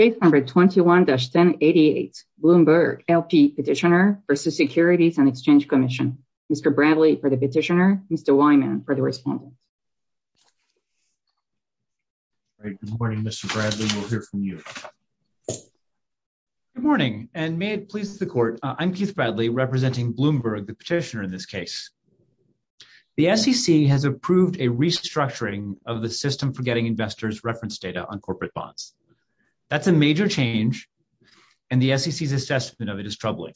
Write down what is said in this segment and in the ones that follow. Case number 21-788, Bloomberg, L.P. Petitioner v. Securities and Exchange Commission. Mr. Bradley for the petitioner, Mr. Weinman for the respondent. All right, good morning, Mr. Bradley. We'll hear from you. Good morning, and may it please the court, I'm Keith Bradley representing Bloomberg, the petitioner in this case. The SEC has approved a restructuring of the system for getting investors' reference data on corporate bonds. That's a major change, and the SEC's assessment of it is troubling.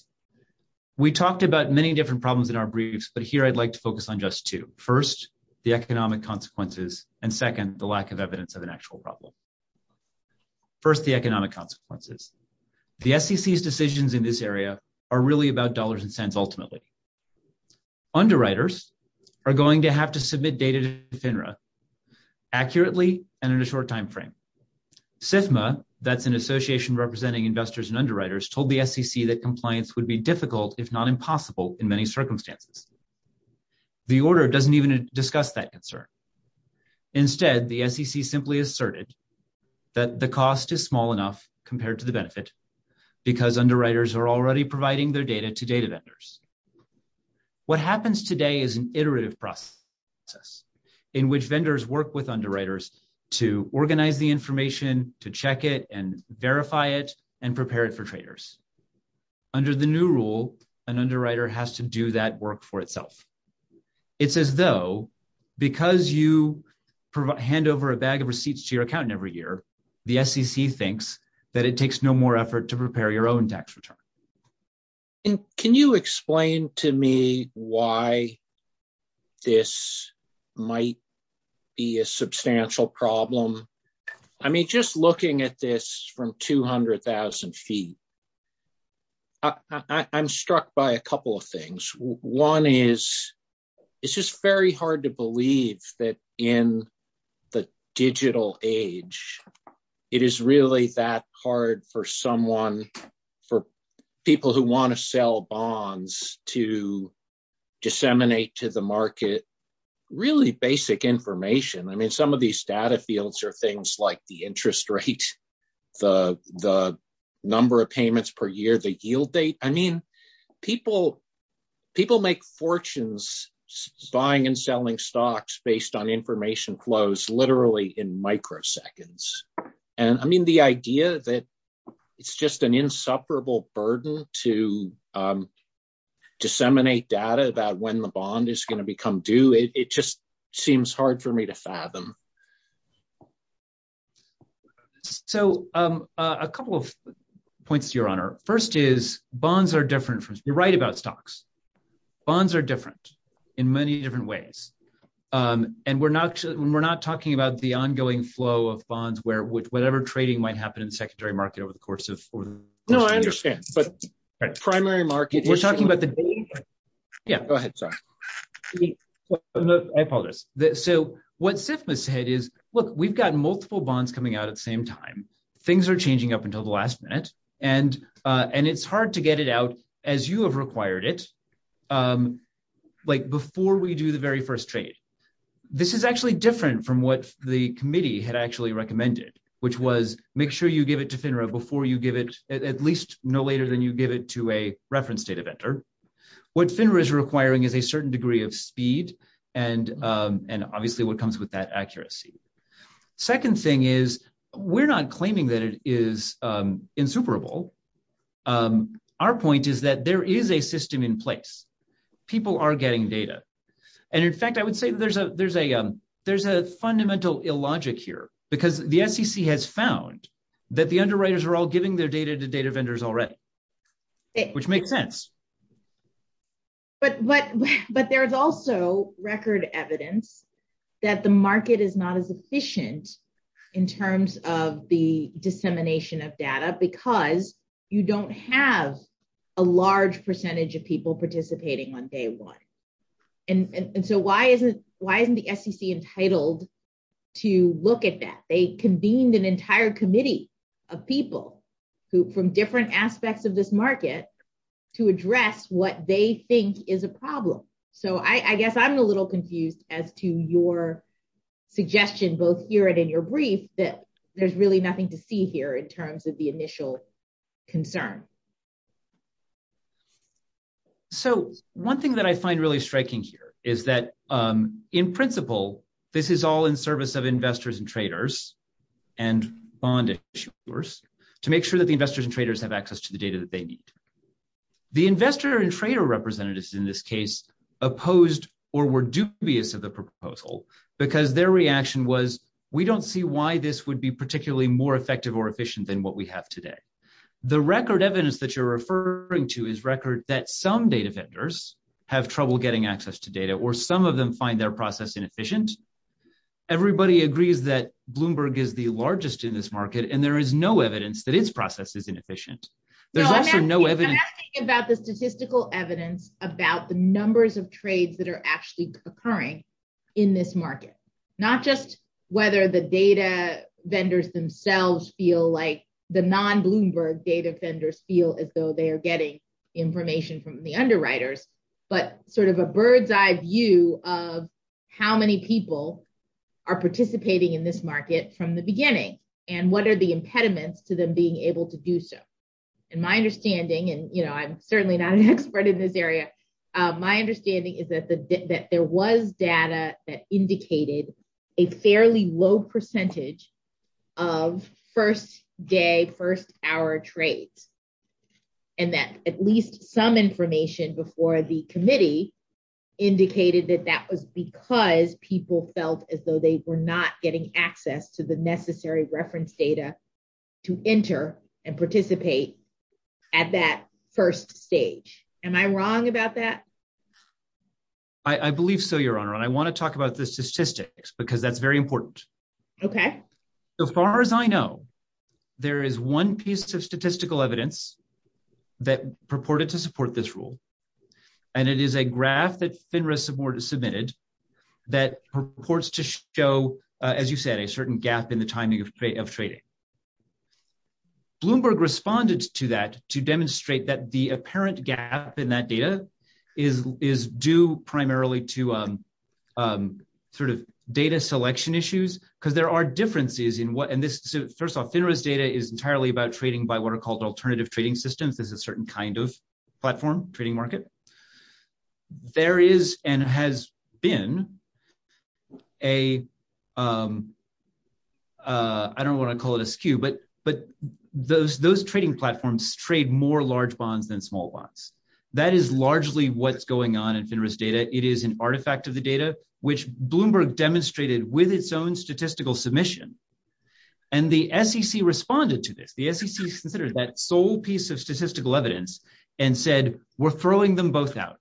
We talked about many different problems in our briefs, but here I'd like to focus on just two. First, the economic consequences, and second, the lack of evidence of an actual problem. First, the economic consequences. The SEC's decisions in this area are really about dollars and cents ultimately. Underwriters are going to have to submit data to FINRA accurately and in a short time frame. FSMA, that's an association representing investors and underwriters, told the SEC that compliance would be difficult, if not impossible, in many circumstances. The order doesn't even discuss that concern. Instead, the SEC simply asserted that the cost is small enough compared to the benefit, because underwriters are already providing their data to data vendors. What happens today is an iterative process in which vendors work with underwriters to organize the information, to check it, and verify it, and prepare it for traders. Under the new rule, an underwriter has to do that work for itself. It's as though, because you hand over a bag of receipts to your accountant every year, the SEC thinks that it takes no more effort to prepare your own tax return. Can you explain to me why this might be a substantial problem? I mean, just looking at this from 200,000 feet, I'm struck by a couple of things. One is, it's just very hard to believe that in the digital age, it is really that hard for people who want to sell bonds to disseminate to the market really basic information. I mean, some of these data fields are things like the interest rate, the number of payments per year, the yield rate. I mean, people make fortunes buying and selling stocks based on information flows literally in microseconds. I mean, the idea that it's just an insufferable burden to disseminate data about when the bond is going to become due, it just seems hard for me to fathom. So, a couple of points to your honor. First is, bonds are different. You're right about stocks. Bonds are different in many different ways. And we're not talking about the ongoing flow of bonds where whatever trading might happen in the secondary market over the course of- No, I understand. But primary market- We're talking about the- Yeah, go ahead. Sorry. I apologize. So, what SIFMA said is, look, we've got multiple bonds coming out at the same time. Things are changing up until the last minute. And it's hard to get it out as you have required it, like before we do the very first trade. This is actually different from what the committee had actually recommended, which was make sure you give it to FINRA before you give it, at least no later than you give it to a reference data vendor. What FINRA is requiring is a certain degree of speed and obviously what comes with that accuracy. Second thing is, we're not claiming that it is insuperable. Our point is that there is a system in place. People are getting data. And in fact, I would say there's a fundamental illogic here, because the SEC has found that the underwriters are all giving their data to data vendors already, which makes sense. But there's also record evidence that the market is not as efficient in terms of the dissemination of data because you don't have a large percentage of people participating on day one. And so, why isn't the SEC entitled to look at that? They convened an entire committee of people from different aspects of this market to address what they think is a problem. So, I guess I'm a little confused as to your suggestion, both here and in your brief, that there's really nothing to see here in terms of the initial concern. So, one thing that I find really striking here is that in principle, this is all in service of investors and traders and bond issuers to make sure that the investors and traders have access to the data that they need. The investor and trader representatives in this case opposed or were dubious of the proposal because their reaction was, we don't see why this would be particularly more effective or efficient than what we have today. The record evidence that you're referring to is record that some data vendors have trouble getting access to data or some of them find their process inefficient. Everybody agrees that Bloomberg is the largest in this market and there is no evidence that its process is inefficient. There's also no evidence... I'm asking about the statistical evidence about the numbers of trades that are actually occurring in this market, not just whether the data vendors themselves feel like the non-Bloomberg data vendors feel as though they are getting information from the underwriters, but sort of a bird's-eye view of how many people are participating in this market from the beginning and what are the impediments to them being able to do so. And my understanding, and you know I'm certainly not an expert in this area, my understanding is that there was data that indicated a fairly low percentage of first day, first hour trades and that at least some information before the committee indicated that that was because people felt as though they were not getting access to the necessary reference data to enter and participate at that first stage. Am I wrong about that? I believe so, your honor. I want to talk about the statistics because that's very important. Okay. So far as I know, there is one piece of statistical evidence that purported to support this rule and it is a graph that FINRA submitted that purports to show, as you said, a certain gap in the timing of trading. Bloomberg responded to that to demonstrate that the apparent gap in that data is due primarily to sort of data selection issues because there are differences in what, and this, first off, FINRA's data is entirely about trading by what are called alternative trading systems. There's a certain kind of platform, trading market. There is and has been a, I don't want to call it a skew, but those trading platforms trade more large bonds than small bonds. That is largely what's going on in FINRA's data. It is an artifact of the data which Bloomberg demonstrated with its own statistical submission and the SEC responded to this. The SEC considered that sole piece of statistical evidence and said, we're throwing them both out.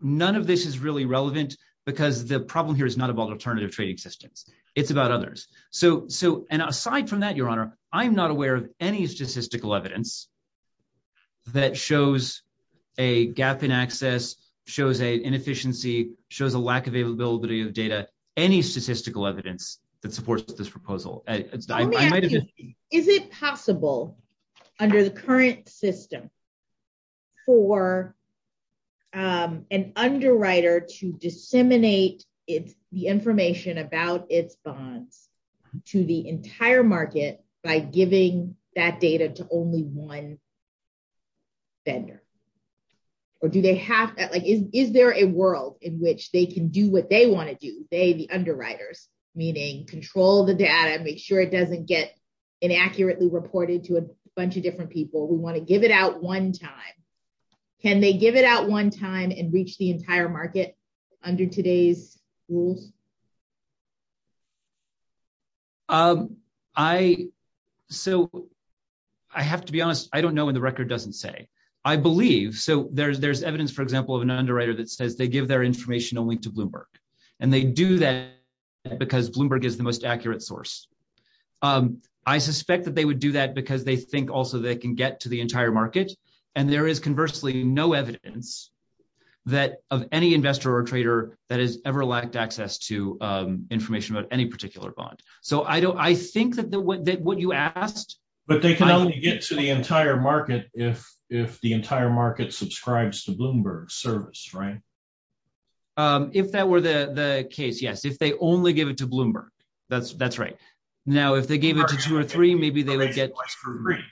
None of this is really relevant because the problem here is not about alternative trading systems. It's about others. So, and aside from that, your honor, I'm not aware of any statistical evidence that shows a gap in access, shows an inefficiency, shows a lack of availability of data, any statistical evidence that supports this proposal. Is it possible under the current system for an underwriter to disseminate the information about its bond to the entire market by giving that data to only one vendor? Or do they have that, is there a world in which they can do what they want to do? They, the underwriters, meaning control the data, make sure it doesn't get inaccurately reported to a bunch of different people. We want to give it out one time. Can they give it out one time and reach the entire market under today's rules? So, I have to be honest, I don't know and the record doesn't say. I believe, so there's evidence, for example, of an underwriter that says they give their information only to Bloomberg and they do that because Bloomberg is the most accurate source. I suspect that they would do that because they think also they can get to the entire market and there is conversely no evidence that of any investor or trader that has ever lacked access to information about any particular bond. So, I think that what you asked- The entire market subscribes to Bloomberg's service, right? If that were the case, yes. If they only gave it to Bloomberg, that's right. Now, if they gave it to two or three, maybe they would get-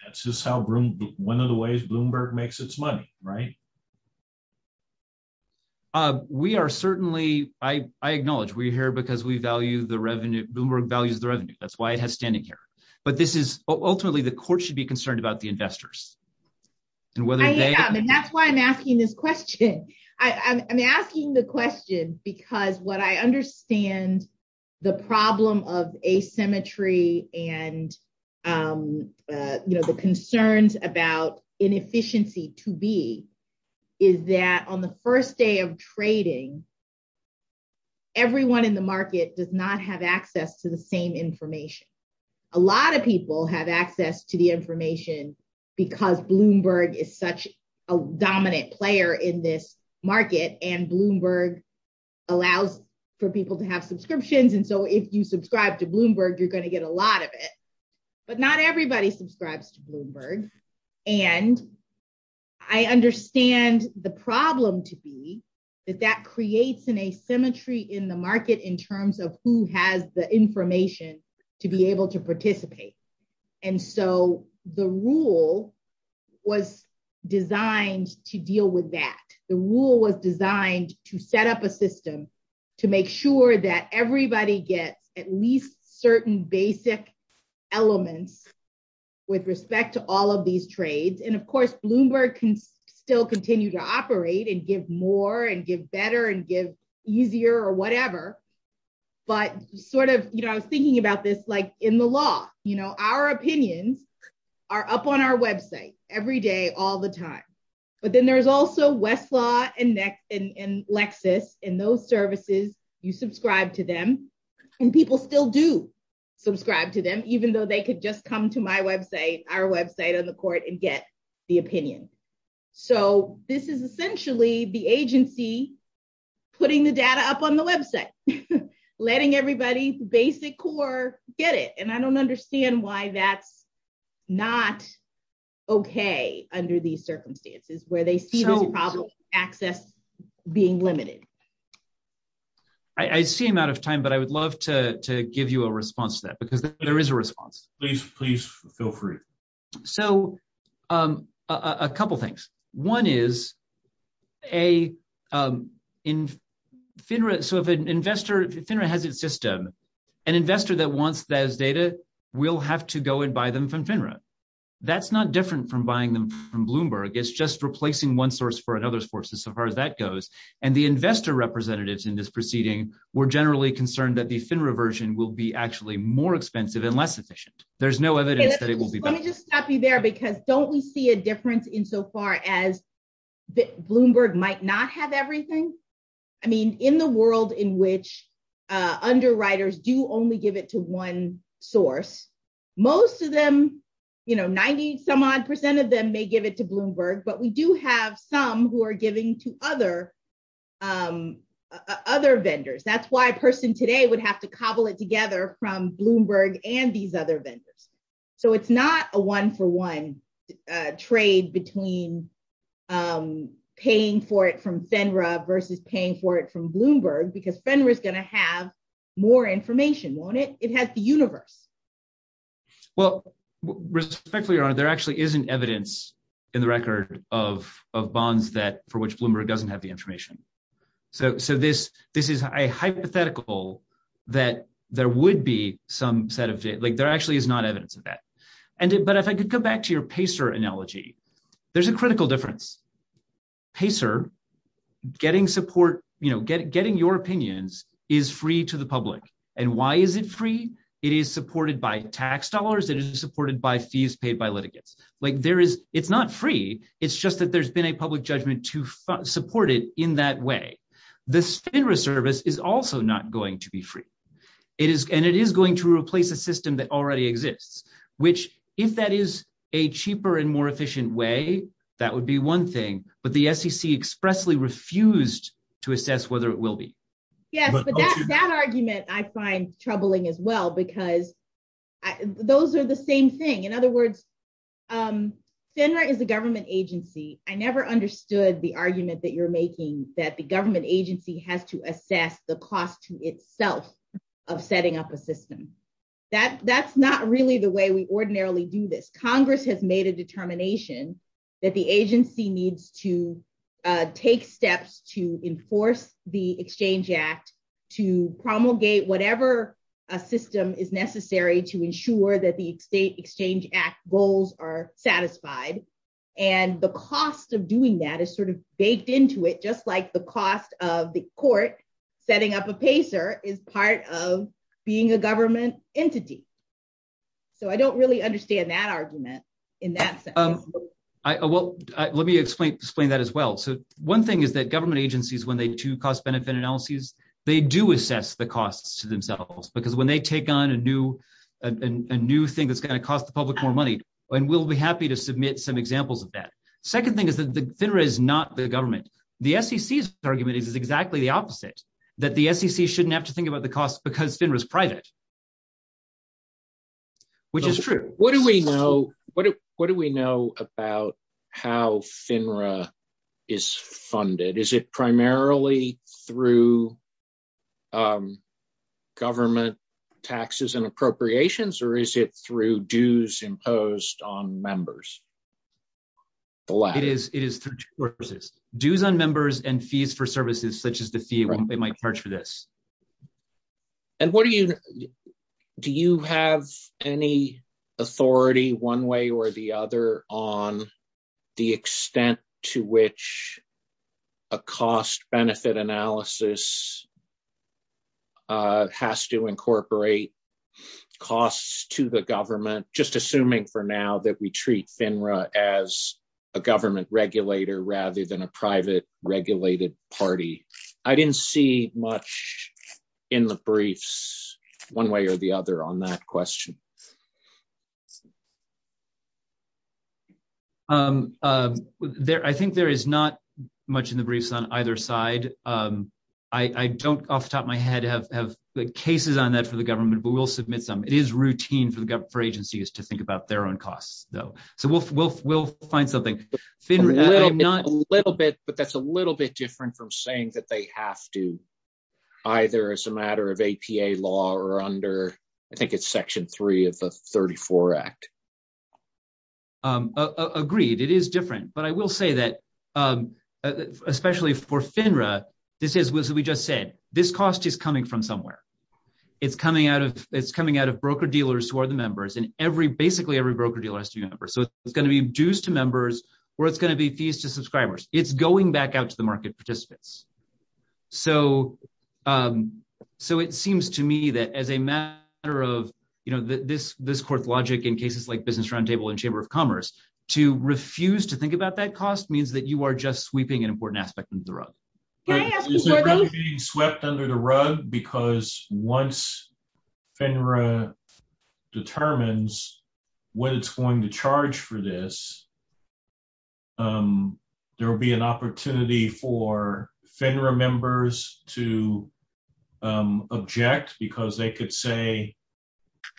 That's just how, one of the ways Bloomberg makes its money, right? We are certainly, I acknowledge, we're here because we value the revenue, Bloomberg values the revenue. That's why it has standing here. But this is ultimately the court should be concerned about the investors and whether they- That's why I'm asking this question. I'm asking the question because what I understand the problem of asymmetry and the concerns about inefficiency to be is that on the first day of trading, everyone in the market does not have access to the same information. A lot of people have access to information because Bloomberg is such a dominant player in this market and Bloomberg allows for people to have subscriptions. And so, if you subscribe to Bloomberg, you're going to get a lot of it. But not everybody subscribes to Bloomberg. And I understand the problem to be that that creates an asymmetry in the market in terms of who has the information to be able to the rule was designed to deal with that. The rule was designed to set up a system to make sure that everybody gets at least certain basic elements with respect to all of these trades. And of course, Bloomberg can still continue to operate and give more and give better and give easier or whatever. But sort of, you know, I was thinking about this like in the law, you know, our opinions are up on our website every day, all the time. But then there's also Westlaw and Lexis and those services, you subscribe to them. And people still do subscribe to them, even though they could just come to my website, our website on the court and get the opinion. So, this is essentially the agency putting the data up on the website, letting everybody basic core get it. And I don't understand why that's not okay under these circumstances where they see the problem access being limited. I seem out of time, but I would love to give you a response to that because there is a response. Please, please go for it. So, a couple of things. One is a, so if an investor, FINRA has its system, an investor that wants those data will have to go and buy them from FINRA. That's not different from buying them from Bloomberg. It's just replacing one source for another source as far as that goes. And the investor representatives in this proceeding were generally concerned that the FINRA version will be actually more expensive and less efficient. There's no evidence that it will be there because don't we see a difference in so far as Bloomberg might not have everything. I mean, in the world in which underwriters do only give it to one source, most of them, 90 some odd percent of them may give it to Bloomberg, but we do have some who are giving to other vendors. That's why a person today would have to cobble it together from Bloomberg and these other vendors. So, it's not a one-for-one trade between paying for it from FINRA versus paying for it from Bloomberg because FINRA is going to have more information, won't it? It has the universe. Well, respectfully, Your Honor, there actually isn't evidence in the record of bonds for which Bloomberg doesn't have the that there would be some set of, like there actually is not evidence of that. But if I could go back to your PACER analogy, there's a critical difference. PACER, getting support, getting your opinions is free to the public. And why is it free? It is supported by tax dollars. It is supported by fees paid by litigants. It's not free. It's just that there's been a public judgment to support it in that way. The FINRA service is also not going to be free. And it is going to replace a system that already exists, which if that is a cheaper and more efficient way, that would be one thing. But the SEC expressly refused to assess whether it will be. Yes, but that argument I find troubling as well because those are the same thing. In other words, FINRA is a government agency. I never understood the argument that you're making that the government agency has to assess the cost to itself of setting up a system. That's not really the way we ordinarily do this. Congress has made a determination that the agency needs to take steps to enforce the Exchange Act to promulgate whatever system is necessary to ensure that the State Exchange Act goals are satisfied. And the cost of doing that is sort of baked into it, just like the cost of the court setting up a PACER is part of being a government entity. So, I don't really understand that argument in that sense. Let me explain that as well. So, one thing is that government agencies, when they do cost-benefit analyses, they do assess the costs to themselves because when they take on a new thing that's going to cost the public more money, and we'll be happy to submit some examples of that. Second thing is FINRA is not the government. The SEC's argument is exactly the opposite, that the SEC shouldn't have to think about the cost because FINRA is private, which is true. What do we know about how FINRA is funded? Is it primarily through government taxes and appropriations, or is it through dues imposed on members? It is through dues on members and fees for services such as the fee it might charge for this. And do you have any authority, one way or the other, on the extent to which a cost-benefit analysis has to incorporate costs to the government, just assuming for now that we treat FINRA as a government regulator rather than a private regulated party? I didn't see much in the briefs, one way or the other, on that question. I think there is not much in the briefs on either side. I don't off the top of my head have the cases on that for the government, but we'll submit some. It is routine for agencies to think about their own costs, though. So, we'll find something. A little bit, but that's a little bit different from saying that they have to, either as a matter of APA law or under, I think it's Section 3 of the 34 Act. Agreed. It is different. But I will say that, especially for FINRA, this is what we just said. This cost is coming from somewhere. It's coming out of broker-dealers who are the members, and basically every broker-dealer has to be a member. So, it's going to be dues to members, or it's going to be fees to subscribers. It's going back out to the market participants. So, it seems to me that as a matter of, you know, this court logic in cases like Business Roundtable and Chamber of Commerce, to refuse to think about that cost means that you are just sweeping an important aspect under the rug. Is it really being swept under the rug? Because once FINRA determines what it's going to charge for this, there will be an opportunity for FINRA members to object because they could say,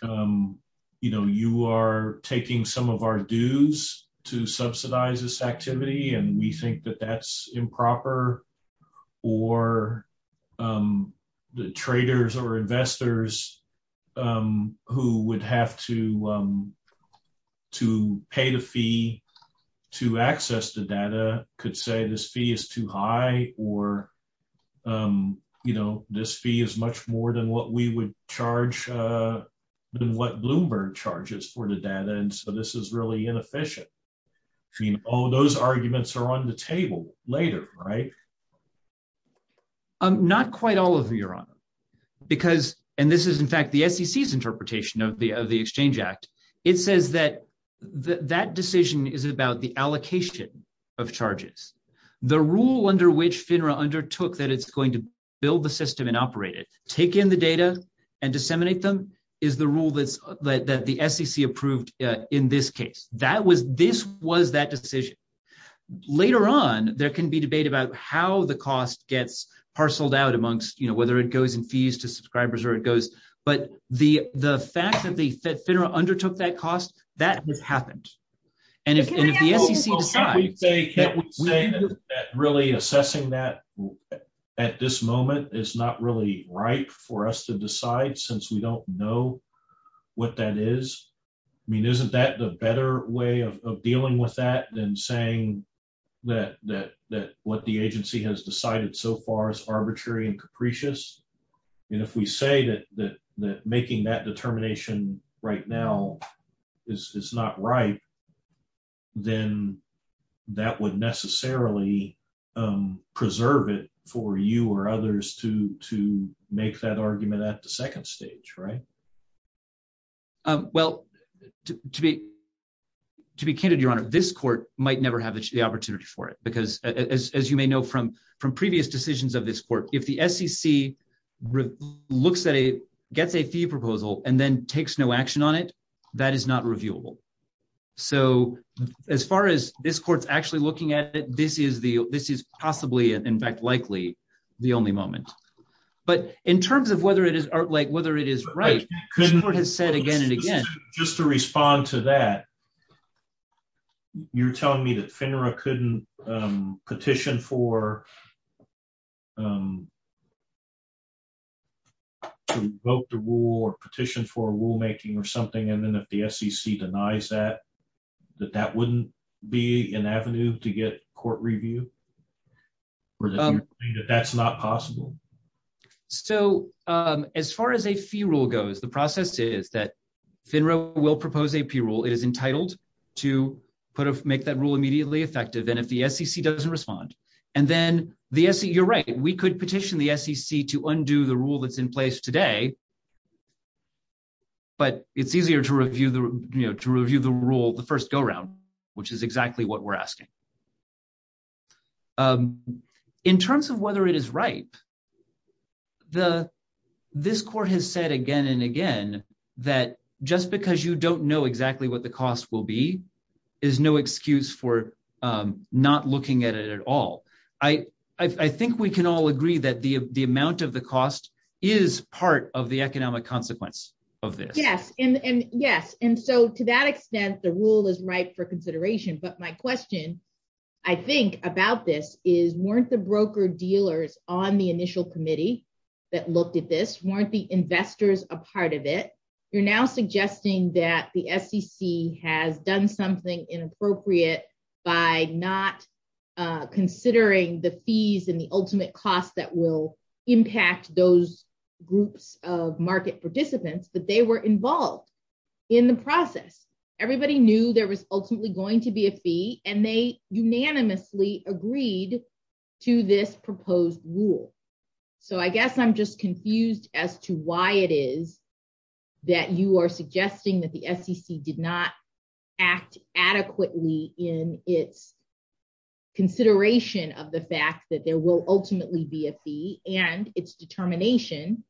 you know, you are taking some of our dues to subsidize this activity, and we think that that's inefficient. I mean, all those arguments are on the table later, right? Not quite all of them, Your Honor, because, and this is, in fact, the SEC's interpretation of the Exchange Act. It says that that decision is about the allocation of charges. The rule under which FINRA undertook that it's going to build the system and operate it, take in the data and disseminate them, is the rule that the SEC approved in this case. This was that decision. Later on, there can be debate about how the cost gets parceled out amongst, you know, whether it goes in fees to subscribers or it goes, but the fact that FINRA undertook that cost, that has happened. And if the SEC decides that really assessing that at this moment is not really right for us to decide since we don't know what that is, I mean, isn't that the better way of saying that what the agency has decided so far is arbitrary and capricious? And if we say that making that determination right now is not right, then that would necessarily preserve it for you or others to make that argument at the second stage, right? Well, to be candid, Your Honor, this court might never have the opportunity for it, because as you may know from previous decisions of this court, if the SEC looks at a, gets a fee proposal and then takes no action on it, that is not reviewable. So as far as this court's actually looking at it, this is possibly, in fact, likely the only moment. But in terms of whether it is, like, whether it is right, the court has said again and again. Just to respond to that, you're telling me that FINRA couldn't petition for, to revoke the rule or petition for rulemaking or something, and then if the SEC denies that, that that wouldn't be an avenue to get court review? Or that that's not possible? So as far as a fee rule goes, the process is that FINRA will propose a fee rule. It is entitled to put a, make that rule immediately effective, and if the SEC doesn't respond, and then the SEC, you're right, we could petition the SEC to undo the rule that's in place today, but it's easier to review the, you know, to review the rule the first go-round, which is exactly what we're asking. In terms of whether it is right, the, this court has said again and again that just because you don't know exactly what the cost will be is no excuse for not looking at it at all. I think we can all agree that the amount of the cost is part of the economic consequence of this. Yes, and yes, and so to that extent, the rule is right for consideration, but my question, I think, about this is, weren't the broker-dealers on the initial committee that looked at this, weren't the investors a part of it? You're now suggesting that the SEC has done something inappropriate by not considering the fees and the ultimate cost that will impact those groups of market participants, but they were involved in the process. Everybody knew there was ultimately going to be a fee, and they unanimously agreed to this proposed rule, so I guess I'm just confused as to why it is that you are suggesting that the SEC did not act adequately in its consideration of the fact that there will ultimately be a fee and its determination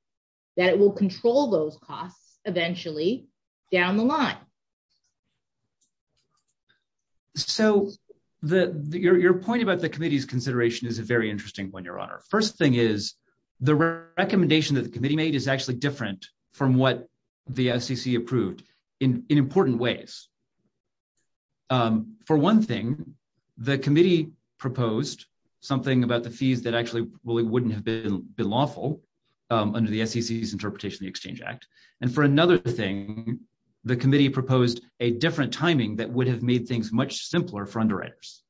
that it will control those costs eventually down the line. So the, your point about the committee's consideration is a very interesting point, Your Honor. First thing is, the recommendation that the committee made is actually different from what the SEC approved in important ways. For one thing, the committee proposed something about the fees that actually really wouldn't have been lawful under the SEC's interpretation of the Exchange Act, and for another thing, the committee proposed a different timing that would have made things much simpler for underwriters.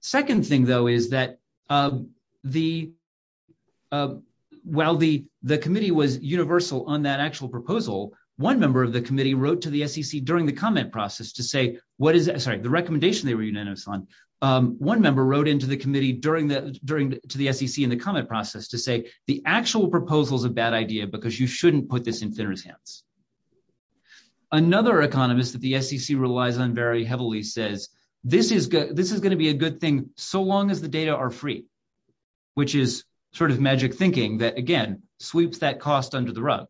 Second thing, though, is that the, while the committee was universal on that actual proposal, one member of the committee wrote to the SEC during the comment process to say, what is that, sorry, the recommendation they wrote into the committee during the, to the SEC in the comment process to say, the actual proposal is a bad idea because you shouldn't put this in sinners' hands. Another economist that the SEC relies on very heavily says, this is good, this is going to be a good thing so long as the data are free, which is sort of magic thinking that, again, sweeps that cost under the rug.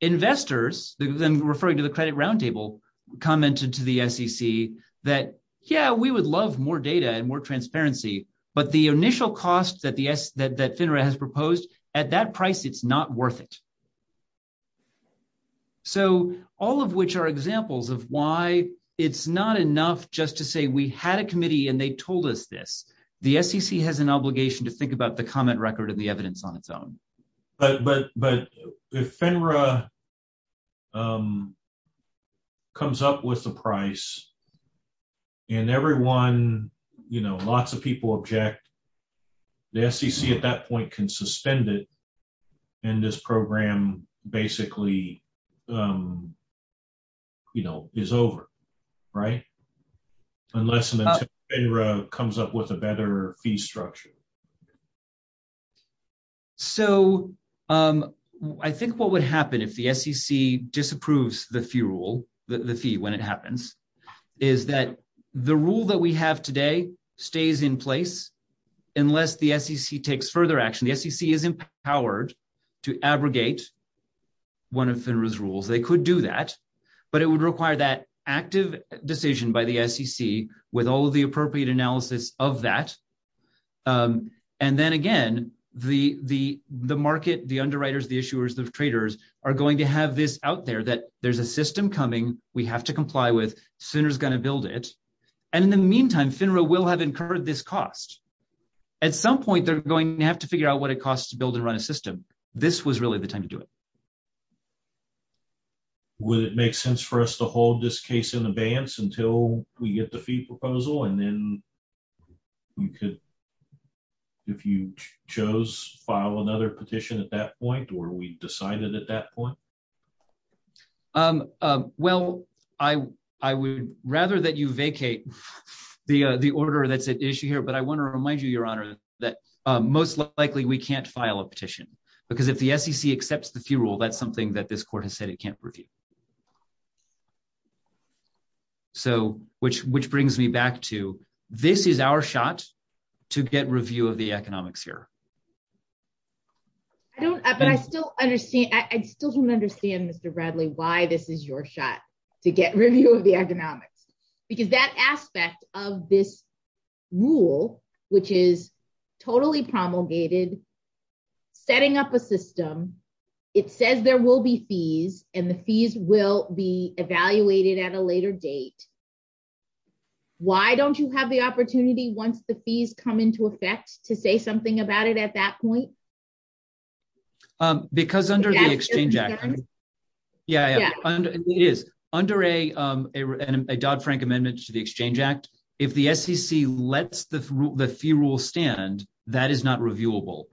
Investors, referring to the credit roundtable, commented to the SEC that, yeah, we would love more data and more transparency, but the initial cost that FINRA has proposed, at that price, it's not worth it. So, all of which are examples of why it's not enough just to say we had a committee and they told us this. The SEC has an obligation to think about the comment record and the evidence on its price. And everyone, you know, lots of people object. The SEC, at that point, can suspend it and this program basically, you know, is over, right? Unless FINRA comes up with a better fee structure. So, I think what would happen if the SEC disapproves the fee rule, the fee when it happens, is that the rule that we have today stays in place unless the SEC takes further action. The SEC is empowered to abrogate one of FINRA's rules. They could do that, but it would require that active decision by the SEC with all of the appropriate analysis of that. And then, again, the market, the underwriters, the issuers, the traders are going to have this out there that there's a system coming, we have to comply with, FINRA is going to build it. And in the meantime, FINRA will have incurred this cost. At some point, they're going to have to figure out what it costs to build and run a system. This was really the time to do it. Would it make sense for us to hold this case in advance until we get the fee proposal and then we could, if you chose, file another petition at that point, or we decide it at that point? Well, I would rather that you vacate the order that's at issue here, but I want to remind you, Your Honor, that most likely we can't file a petition, because if the SEC accepts the fee rule, that's something that this court has said it can't review. So, which brings me to, this is our shot to get review of the economic sphere. I don't, but I still understand, I still don't understand, Mr. Bradley, why this is your shot to get review of the economics. Because that aspect of this rule, which is totally promulgated, setting up a system, it says there will be fees, and the fees will be evaluated at a later date. Why don't you have the opportunity once the fees come into effect to say something about it at that point? Because under the Exchange Act, yeah, yeah, it is. Under a Dodd-Frank Amendment to the Exchange Act, if the SEC lets the fee rule stand, that is not reviewable.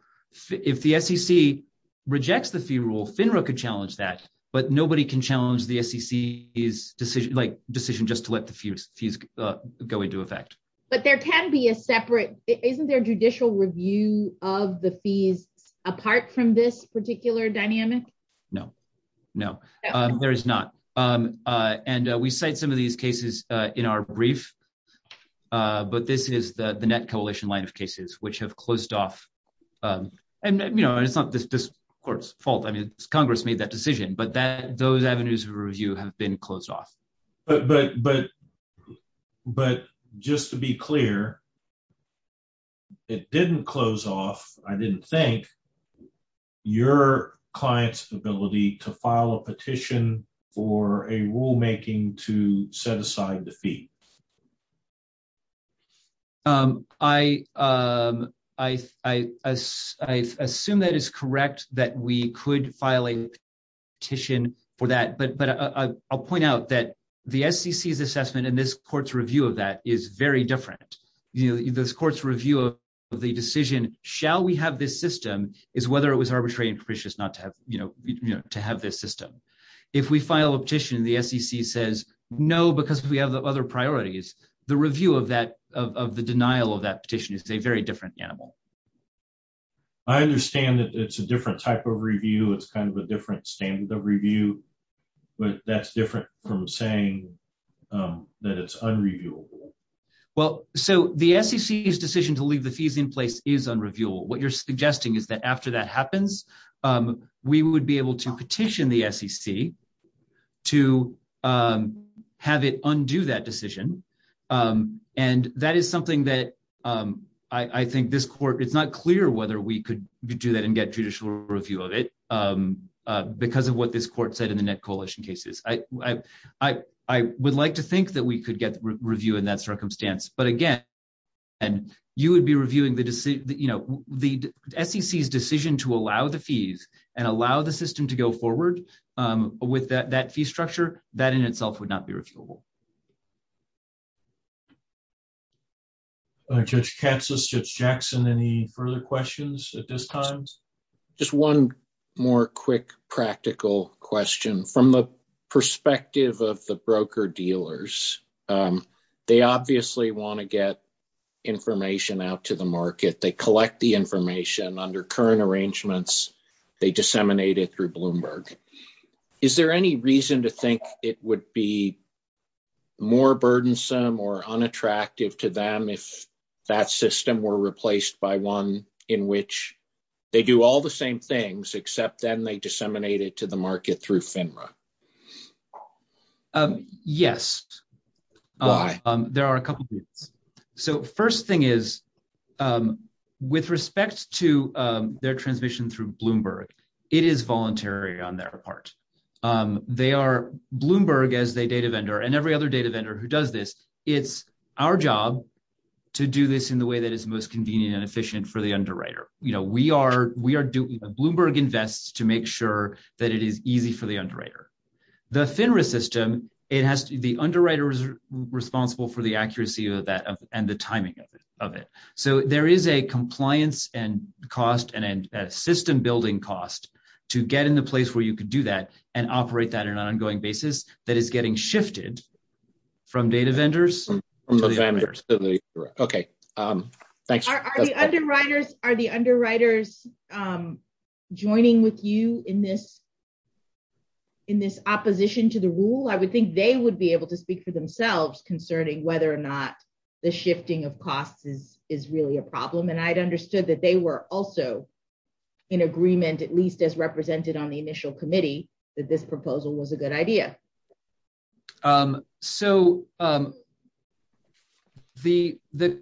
If the SEC rejects the fee rule, FINRA could challenge that, but nobody can challenge the SEC's decision, like, decision just let the fees go into effect. But there can be a separate, isn't there judicial review of the fees apart from this particular dynamic? No, no, there is not. And we cite some of these cases in our brief, but this is the Net Coalition line of cases, which have closed off, and, you know, it's not this court's fault, I mean, Congress made that decision, but that, those avenues of review have been closed off. But just to be clear, it didn't close off, I didn't think, your client's ability to file a petition for a rulemaking to set aside the fee. I assume that is correct, that we could file a petition for that, but I'll point out that the SEC's assessment and this court's review of that is very different. You know, this court's review of the decision, shall we have this system, is whether it was arbitrary and pernicious not to have, you know, to have this system. If we file a petition, the SEC says, no, because we have the other priorities, the review of that, of the denial of that petition is a very different animal. I understand that it's a different type of review, it's kind of a different standard of review, but that's different from saying that it's unreviewable. Well, so the SEC's decision to leave the fees in place is unreviewable. What you're suggesting is that after that happens, we would be able to petition the SEC to have it undo that decision, and that is something that I think this court, it's not clear whether we could do that and get judicial review of it, because of what this court said in the Net Coalition cases. I would like to think that we could get review in that circumstance, but again, and you would be reviewing the decision, you know, the SEC's decision to allow the fees and allow the system to go forward with that fee structure, that in itself would not be reviewable. Judge Katsas, Judge Jackson, any further questions at this time? Just one more quick practical question. From the perspective of the broker-dealers, they obviously want to get information out to the market, they collect the information under current arrangements, they disseminate it through Bloomberg. Is there any reason to think it would be more burdensome or unattractive to them if that system were replaced by one in which they do all the same things, except then they disseminate it to the market through FINRA? Yes. Why? There are a couple reasons. So, first thing is, with respect to their transition through Bloomberg, it is voluntary on their part. They are, Bloomberg, as a data vendor, and every other data vendor who does this, it's our job to do this in the way that is most We are doing, Bloomberg invests to make sure that it is easy for the underwriter. The FINRA system, it has to be, the underwriter is responsible for the accuracy of that and the timing of it. So, there is a compliance and cost and a system building cost to get in the place where you could do that and operate that on an ongoing basis that is getting shifted from data vendors. Are the underwriters joining with you in this opposition to the rule? I would think they would be able to speak for themselves concerning whether or not the shifting of costs is really a problem, and I'd understood that they were also in agreement, at least as represented on the committee. The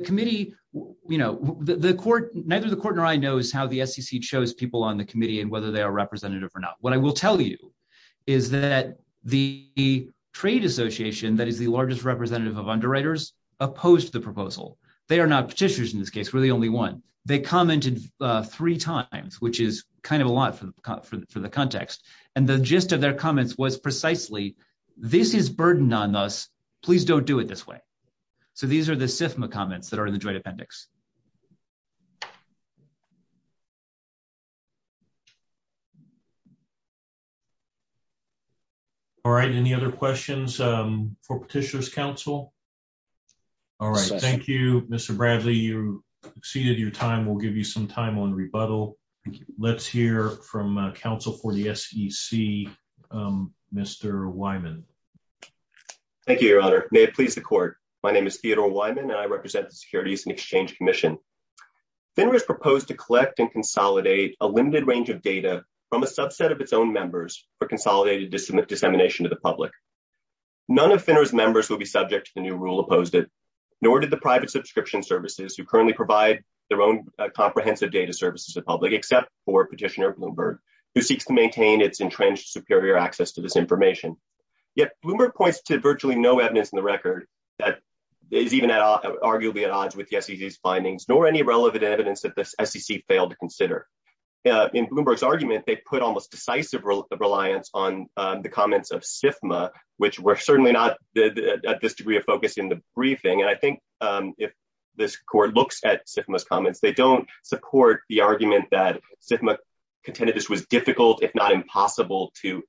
committee, you know, the court, neither the court nor I know is how the SEC chose people on the committee and whether they are representative or not. What I will tell you is that the trade association that is the largest representative of underwriters opposed the proposal. They are not petitioners in this case. We're the only one. They commented three times, which is kind of a lot for the context, and the gist of their comments was precisely, this is burden on us. Please don't do it this way. So, these are the SIFMA comments that are in the joint appendix. All right. Any other questions for Petitioner's Council? All right. Thank you, Mr. Bradley. You exceeded your time. We'll give you some time on rebuttal. Let's hear from counsel for the SEC, Mr. Wyman. Thank you, Your Honor. May it please the court. My name is Theodore Wyman, and I represent the Securities and Exchange Commission. FINRA has proposed to collect and consolidate a limited range of data from a subset of its own members for consolidated dissemination to the public. None of FINRA's members will be subject to the new rule opposed it, nor did the private subscription services who currently provide their own comprehensive data services to the public, except for Petitioner Bloomberg, who seeks to maintain its entrenched superior access to this information. Yet, Bloomberg points to virtually no evidence in the record that is even arguably at odds with the SEC's findings, nor any relevant evidence that the SEC failed to consider. In Bloomberg's argument, they put almost decisive reliance on the comments of SIFMA, which were certainly not at this degree of focus in the briefing. And I think if this court looks at SIFMA's comments, they don't support the argument that SIFMA contended this was difficult, if not impossible, to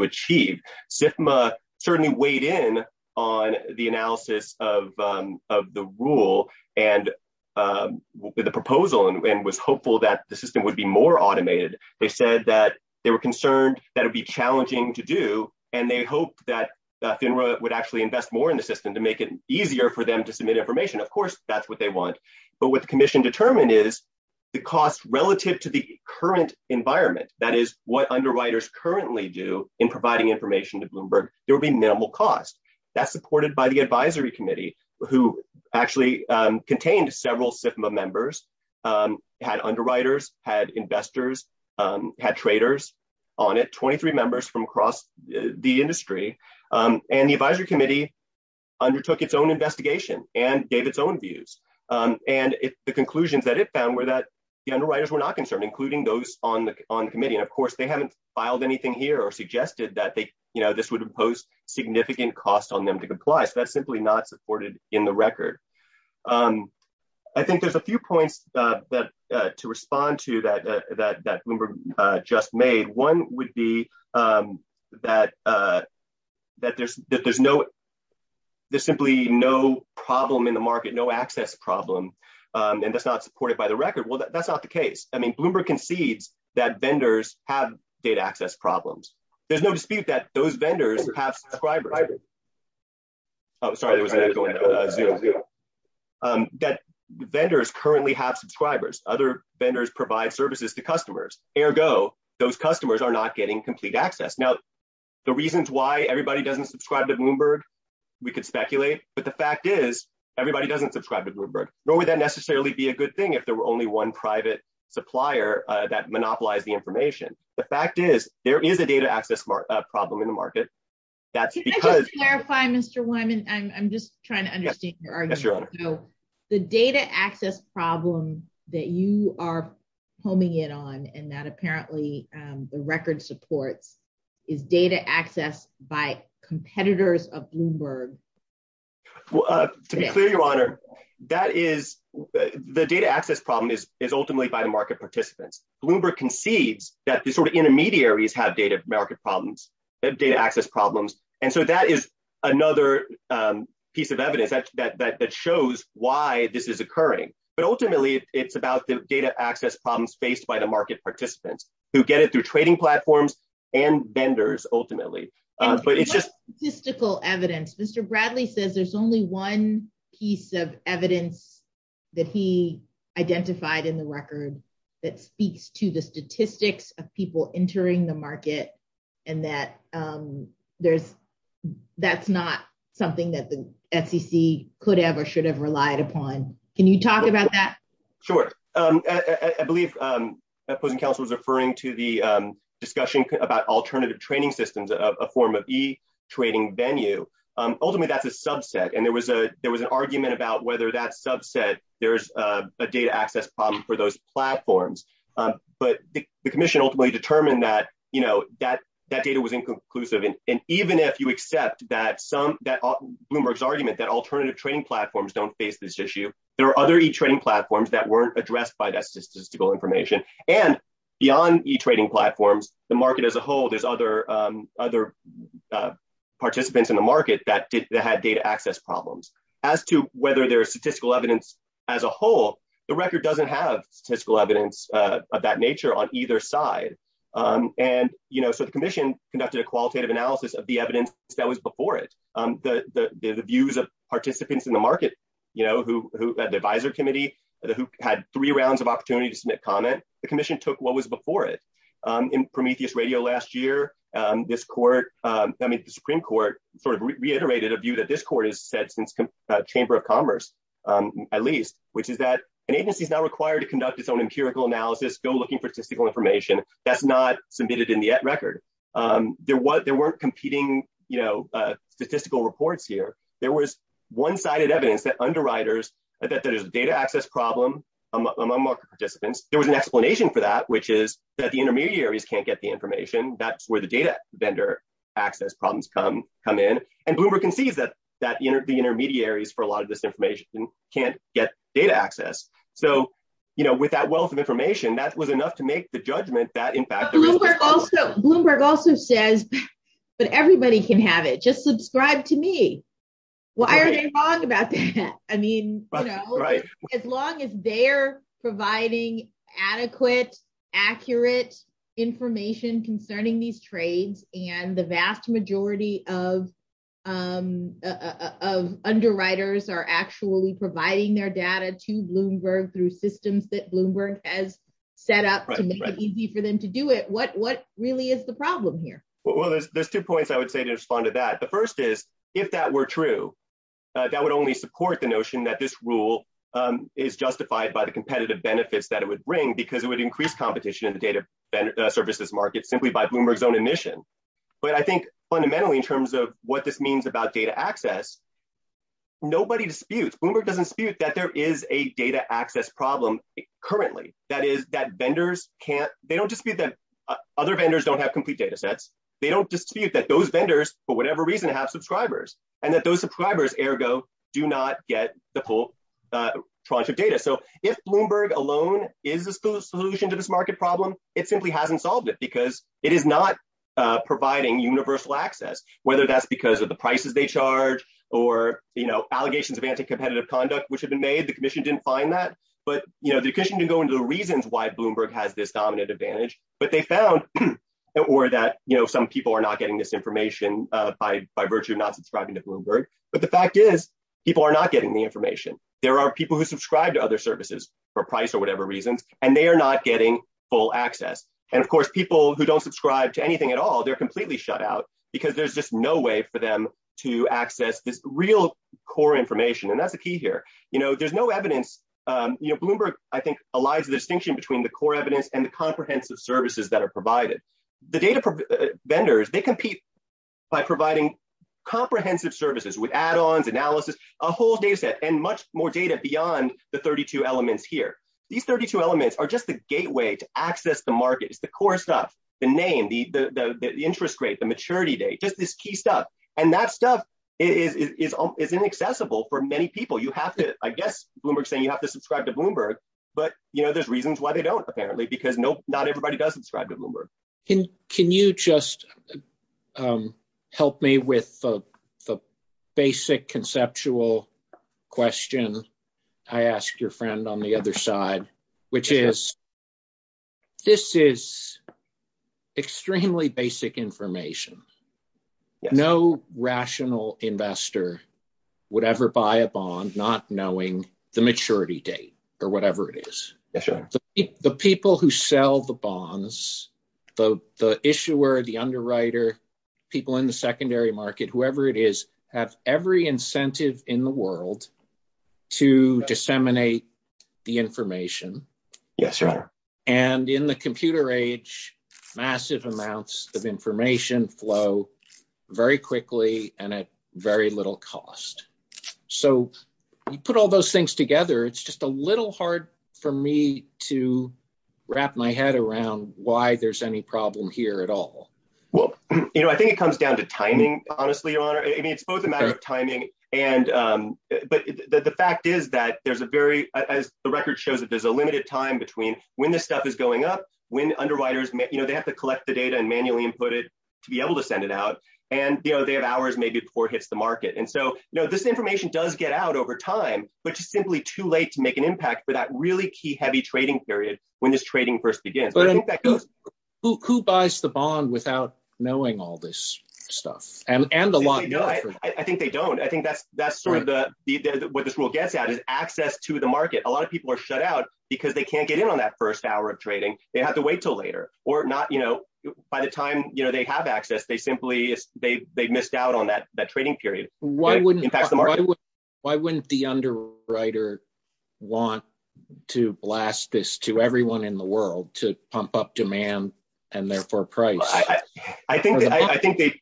achieve. SIFMA certainly weighed in on the analysis of the rule and the proposal and was hopeful that the system would be more automated. They said that they were concerned that it would be challenging to do, and they hoped that FINRA would actually invest more in the system to make it easier for them to submit information. Of course, that's what they want. But what the commission determined is the cost relative to the current environment, that is, what underwriters currently do in providing information to Bloomberg, there will be minimal cost. That's supported by the advisory committee, who actually contained several SIFMA members, had underwriters, had traders on it, 23 members from across the industry. And the advisory committee undertook its own investigation and gave its own views. And the conclusions that it found were that the underwriters were not concerned, including those on the committee. And of course, they haven't filed anything here or suggested that this would impose significant costs on them to comply. So that's simply not supported in the record. I think there's a few points to respond to that Bloomberg just made. One would be that there's simply no problem in the market, no access problem, and that's not supported by the record. Well, that's not the case. I mean, Bloomberg concedes that vendors have data access problems. There's no dispute that those vendors have subscribers. That vendors currently have subscribers. Other vendors provide services to customers. Ergo, those customers are not getting complete access. Now, the reasons why everybody doesn't subscribe to Bloomberg, we could speculate. But the fact is, everybody doesn't subscribe to Bloomberg. Nor would that necessarily be a good thing if there were only one private supplier that monopolized the information. The fact is, there is a data access problem in the market. Can I just clarify, Mr. Wyman? I'm just trying to understand your argument. So the data access problem that you are homing in on, and that apparently the record supports, is data access by competitors of Bloomberg? To be clear, Your Honor, the data access problem is ultimately by market participants. Bloomberg concedes that the sort of intermediaries have data access problems. And so that is another piece of evidence that shows why this is occurring. But ultimately, it's about the data access problems faced by the market participants who get it through trading platforms and vendors, ultimately. But it's just- Mr. Bradley says there's only one piece of evidence that he identified in the record that speaks to the statistics of people entering the market, and that that's not something that the SEC could have or should have relied upon. Can you talk about that? Sure. I believe the opposing counsel was referring to the discussion about alternative training systems, a form of e-trading venue. Ultimately, that's a subset. And there was an argument about whether that subset, there's a data access problem for those platforms. But the commission ultimately determined that that data was inconclusive. And even if you accept that Bloomberg's argument that alternative trading platforms don't face this issue, there are other e-trading platforms that weren't addressed by that statistical information. And beyond e-trading platforms, the market as a whole, there's other participants in the market that had data access problems. As to whether there's statistical evidence as a whole, the record doesn't have statistical evidence of that nature on either side. And so the commission conducted a qualitative analysis of the evidence that was before it. The views of participants in the market, who had the advisor committee, who had three rounds of opportunities to make comment, the commission took what was before it. In Prometheus Radio last year, the Supreme Court sort of reiterated a view that this court has said since the Chamber of Commerce, at least, which is that an agency is now required to conduct its own empirical analysis, still looking for statistical information. That's not submitted in the record. There weren't competing statistical reports here. There was one-sided evidence that data access problem among market participants. There was an explanation for that, which is that the intermediaries can't get the information. That's where the data vendor access problems come in. And Bloomberg conceived that the intermediaries for a lot of this information can't get data access. So with that wealth of information, that was enough to make the judgment that in fact- Bloomberg also says that everybody can have it. Just subscribe to me. Why are they wrong about that? I mean, as long as they're providing adequate, accurate information concerning these trades, and the vast majority of underwriters are actually providing their data to Bloomberg through systems that Bloomberg has set up to make it easy for them to do it, what really is the problem here? Well, there's two points I would say to respond to that. The first is, if that were true, that would only support the notion that this rule is justified by the competitive benefits that it would bring because it would increase competition in the data services market simply by Bloomberg's own admission. But I think fundamentally, in terms of what this means about data access, nobody disputes- Bloomberg doesn't dispute that there is a data access problem currently. That is, that vendors can't- they don't dispute that other vendors don't have complete data sets. They don't dispute that those vendors, for whatever reason, have subscribers. And that those subscribers, ergo, do not get the whole tranche of data. So if Bloomberg alone is the solution to this market problem, it simply hasn't solved it because it is not providing universal access, whether that's because of the prices they charge or, you know, allegations of anti-competitive conduct which have been made. The commission didn't find that. But, you know, the commission didn't go into the reasons why Bloomberg has this dominant advantage, but they found- or that, you know, some people are not getting this information by virtue of not subscribing to Bloomberg. But the fact is, people are not getting the information. There are people who subscribe to other services for price or whatever reason, and they are not getting full access. And of course, people who don't subscribe to anything at all, they're completely shut out because there's just no way for them to access the real core information. And that's the key here. You know, there's no evidence- you know, Bloomberg, I think, allies the distinction between the core evidence and the comprehensive services that are provided. The data vendors, they compete by providing comprehensive services with add-ons, analysis, a whole dataset, and much more data beyond the 32 elements here. These 32 elements are just the gateway to access the market, the core stuff, the name, the interest rate, the maturity date, just this key stuff. And that stuff is inaccessible for many people. You have to- I guess Bloomberg's saying you have to subscribe to Bloomberg, but, you know, there's reasons why they don't, apparently, because not everybody does subscribe to Bloomberg. Can you just help me with the basic conceptual question I asked your friend? On the other side, which is, this is extremely basic information. No rational investor would ever buy a bond not knowing the maturity date or whatever it is. The people who sell the bonds, the issuer, the underwriter, people in the secondary market, whoever it is, have every the information. Yes, Your Honor. And in the computer age, massive amounts of information flow very quickly and at very little cost. So, you put all those things together, it's just a little hard for me to wrap my head around why there's any problem here at all. Well, you know, I think it comes down to timing, honestly, Your Honor. I mean, it's both a matter of timing and- but the fact is that there's a very- the record shows that there's a limited time between when this stuff is going up, when underwriters, you know, they have to collect the data and manually input it to be able to send it out, and, you know, they have hours maybe before it hits the market. And so, you know, this information does get out over time, but it's simply too late to make an impact for that really key heavy trading period when this trading first begins. Who buys the bond without knowing all this stuff? And the- I think they don't. I think that's sort of the- what this gets at is access to the market. A lot of people are shut out because they can't get in on that first hour of trading. They have to wait till later or not, you know, by the time, you know, they have access, they simply- they missed out on that trading period. Why wouldn't the underwriter want to blast this to everyone in the world to pump up demand and therefore price? I think they-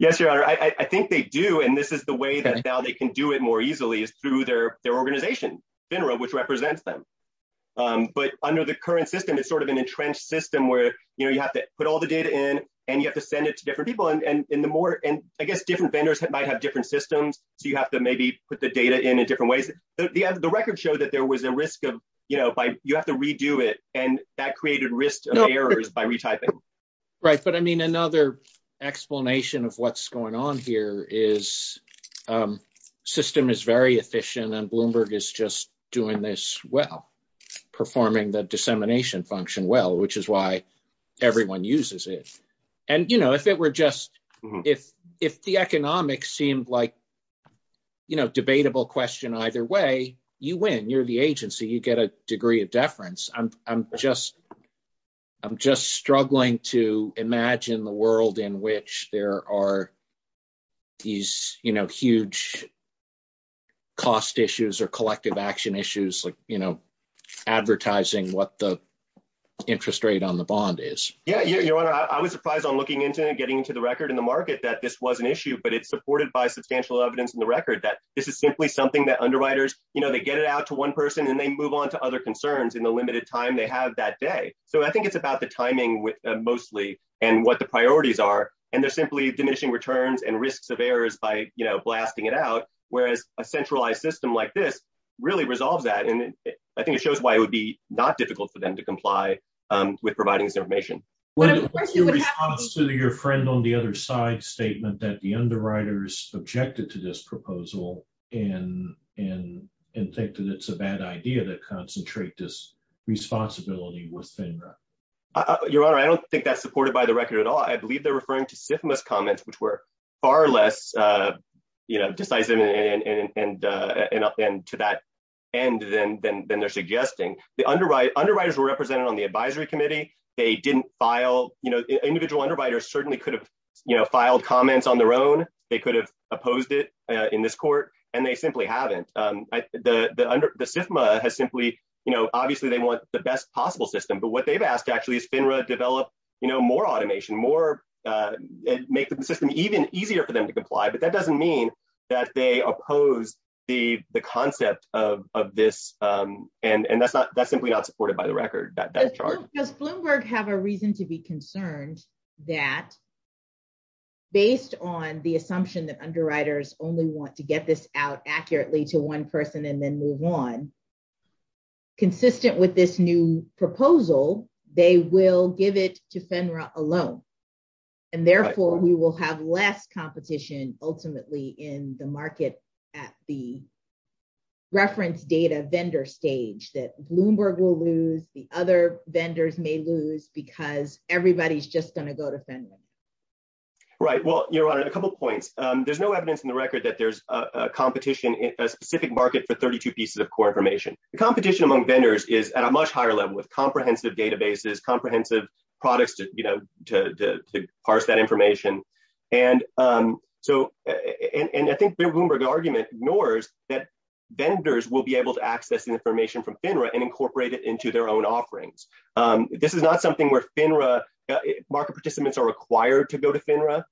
yes, Your Honor. I think they do, and this is the way that now they can do it more easily is through their organization, FINRA, which represents them. But under the current system, it's sort of an entrenched system where, you know, you have to put all the data in and you have to send it to different people, and the more- and I guess different vendors might have different systems, so you have to maybe put the data in in different ways. The record showed that there was a risk of, you know, by- you have to redo it, and that created risks of errors by retyping. Right, but I mean, another explanation of what's going on here is system is very efficient, and Bloomberg is just doing this well, performing the dissemination function well, which is why everyone uses it. And, you know, if it were just- if the economics seemed like, you know, debatable question either way, you win. You're the agency. You get a degree of deference. I'm just- I'm just struggling to imagine the world in which there are these, you know, huge cost issues or collective action issues, like, you know, advertising what the interest rate on the bond is. Yeah, yeah, your honor, I was surprised on looking into and getting into the record in the market that this was an issue, but it's supported by substantial evidence in the record that this is simply something that underwriters, you know, they get it out to one and they move on to other concerns in the limited time they have that day. So, I think it's about the timing with mostly and what the priorities are, and they're simply diminishing returns and risks of errors by, you know, blasting it out, whereas a centralized system like this really resolves that, and I think it shows why it would be not difficult for them to comply with providing this information. Your friend on the other side's statement that the underwriters objected to this proposal and think that it's a bad idea to concentrate this responsibility within that. Your honor, I don't think that's supported by the record at all. I believe they're referring to SIFMA's comments, which were far less, you know, decisive and to that end than they're suggesting. The underwriters were represented on the advisory committee. They didn't file, you know, individual underwriters certainly could have, you know, opposed it in this court, and they simply haven't. The SIFMA has simply, you know, obviously they want the best possible system, but what they've asked actually is FINRA develop, you know, more automation, more and make the system even easier for them to comply, but that doesn't mean that they oppose the concept of this, and that's not, that's simply not supported by the record. Does Bloomberg have a reason to be concerned that based on the assumption that underwriters only want to get this out accurately to one person and then move on, consistent with this new proposal, they will give it to FINRA alone, and therefore, we will have less competition ultimately in the market at the reference data vendor stage, that Bloomberg will lose, the other vendors may lose, because everybody's just going to go to Right, well, your honor, a couple points. There's no evidence in the record that there's a competition in a specific market for 32 pieces of core information. The competition among vendors is at a much higher level with comprehensive databases, comprehensive products to, you know, to parse that information, and so, and I think Bloomberg's argument ignores that vendors will be able to access the information from FINRA and incorporate it into their own offerings. This is not something where FINRA market participants are required to go to FINRA,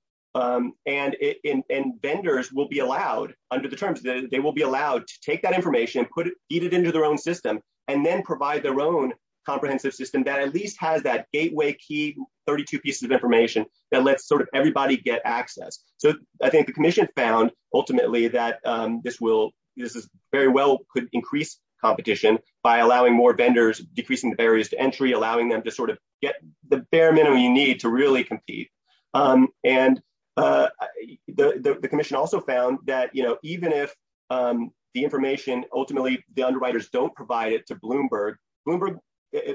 and vendors will be allowed under the terms, they will be allowed to take that information, put it, feed it into their own system, and then provide their own comprehensive system that at least has that gateway key 32 pieces of information that lets sort of everybody get access. So, I think the commission found ultimately that this will, this is very well could increase competition by allowing more vendors, decreasing the barriers to entry, allowing them to sort of get the bare minimum you need to really compete, and the commission also found that, you know, even if the information, ultimately, the underwriters don't provide it to Bloomberg, Bloomberg,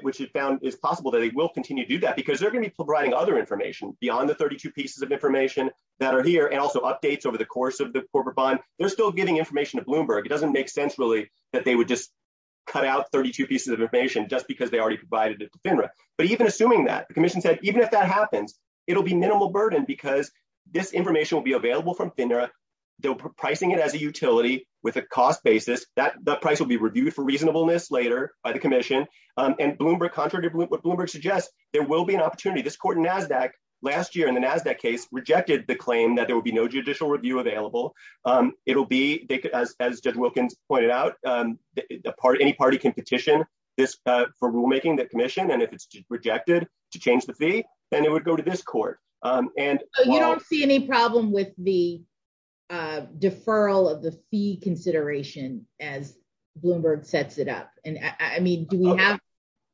which is found, it's possible that they will continue to do that, because they're going to be providing other information beyond the 32 pieces of information that are here, and also updates over the course of the corporate bond. They're still giving information to cut out 32 pieces of information, just because they already provided it to FINRA, but even assuming that, the commission said, even if that happens, it'll be minimal burden, because this information will be available from FINRA. They're pricing it as a utility with a cost basis. That price will be reviewed for reasonableness later by the commission, and Bloomberg, contrary to what Bloomberg suggests, there will be an opportunity. This court in NASDAQ last year in the NASDAQ case rejected the claim that there will be no judicial review available. It'll be, as Judge Wilkins pointed out, any party can petition this for rulemaking, the commission, and if it's rejected, to change the fee, and it would go to this court, and- So, you don't see any problem with the deferral of the fee consideration as Bloomberg sets it up, and I mean, do we have,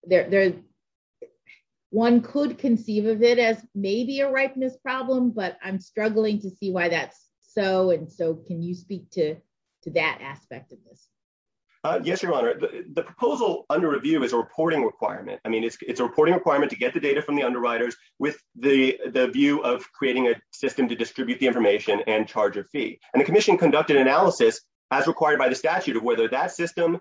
there's, one could conceive of it as maybe a ripeness problem, but I'm struggling to see why that's so, and so, can you speak to that aspect of it? Yes, Your Honor, the proposal under review is a reporting requirement. I mean, it's a reporting requirement to get the data from the underwriters with the view of creating a system to distribute the information and charge a fee, and the commission conducted analysis as required by the statute of whether that system,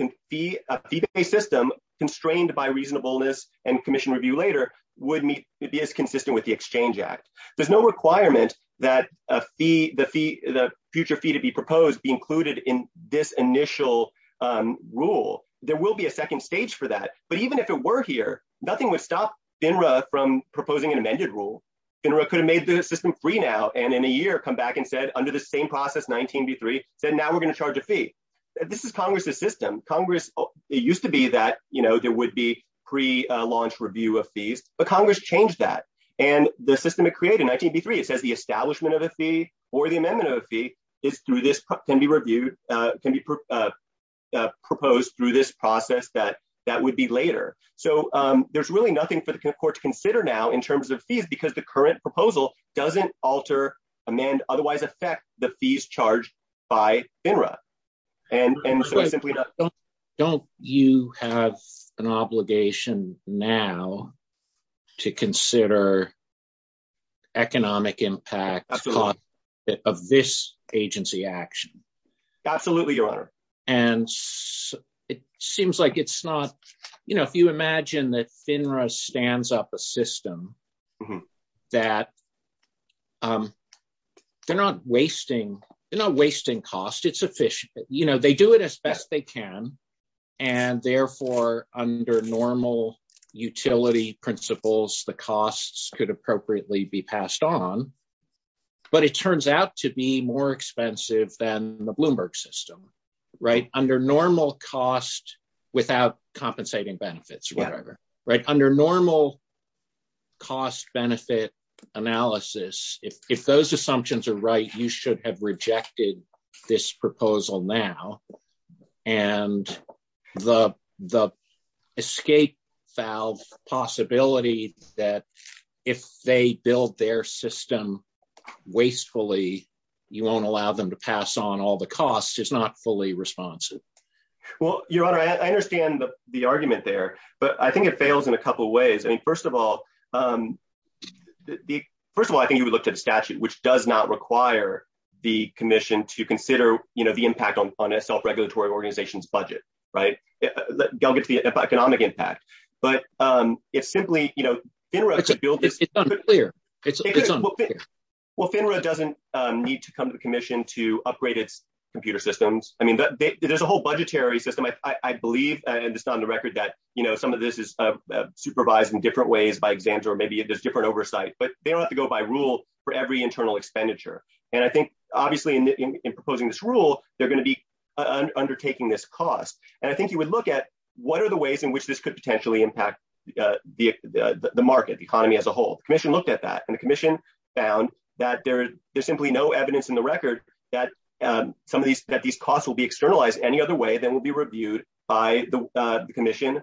a fee-based system constrained by reasonableness and commission review later, would be as consistent with the Exchange Act. There's no requirement that a fee, the fee, the future fee to be proposed be included in this initial rule. There will be a second stage for that, but even if it were here, nothing would stop FINRA from proposing an amended rule. FINRA could have made the system free now, and in a year, come back and said, under the same process, 1983, that now we're going to charge a fee. This is Congress's system. Congress, it used to be that, you know, there would be pre-launch review of fees, but Congress changed that, and the system it created in 1983, it says the establishment of a fee or the amendment of a fee is through this, can be reviewed, can be proposed through this process that that would be later. So, there's really nothing for the court to consider now in terms of fees because the current proposal doesn't alter, amend, otherwise affect the fees charged by FINRA, and so it simply does not. Don't you have an obligation now to consider economic impact of this agency action? Absolutely, Your Honor. And it seems like it's not, you know, if you imagine that FINRA stands up a system that they're not wasting, they're not wasting cost, it's efficient. You know, they do it as best they can, and therefore, under normal utility principles, the costs could appropriately be passed on, but it turns out to be more expensive than the Bloomberg system, right? Under normal cost without compensating benefits, whatever, right? Under normal cost-benefit analysis, if those assumptions are right, you should have rejected this proposal now, and the escape valve possibility that if they build their system wastefully, you won't allow them to pass on all the costs is not fully responsive. Well, Your Honor, I understand the argument there, but I think it fails in a couple of ways. I mean, first of all, I think you would look at the statute, which does not require the commission to consider, you know, the impact on a self-regulatory organization's budget, right? They'll get to the economic impact, but it's simply, you know, well, FINRA doesn't need to come to the commission to upgrade its computer systems. I mean, there's a whole budgetary system, I believe, and it's not on the record that, you know, some of this is supervised in different ways, by example, or maybe there's different oversight, but they don't have to go by rule for every internal expenditure, and I think, obviously, in proposing this rule, they're going to be undertaking this cost, and I think you would look at what are the ways in which this could potentially impact the market, the economy as a whole. The commission looked at that, and the commission found that there's simply no evidence in the record that some of that will be reviewed by the commission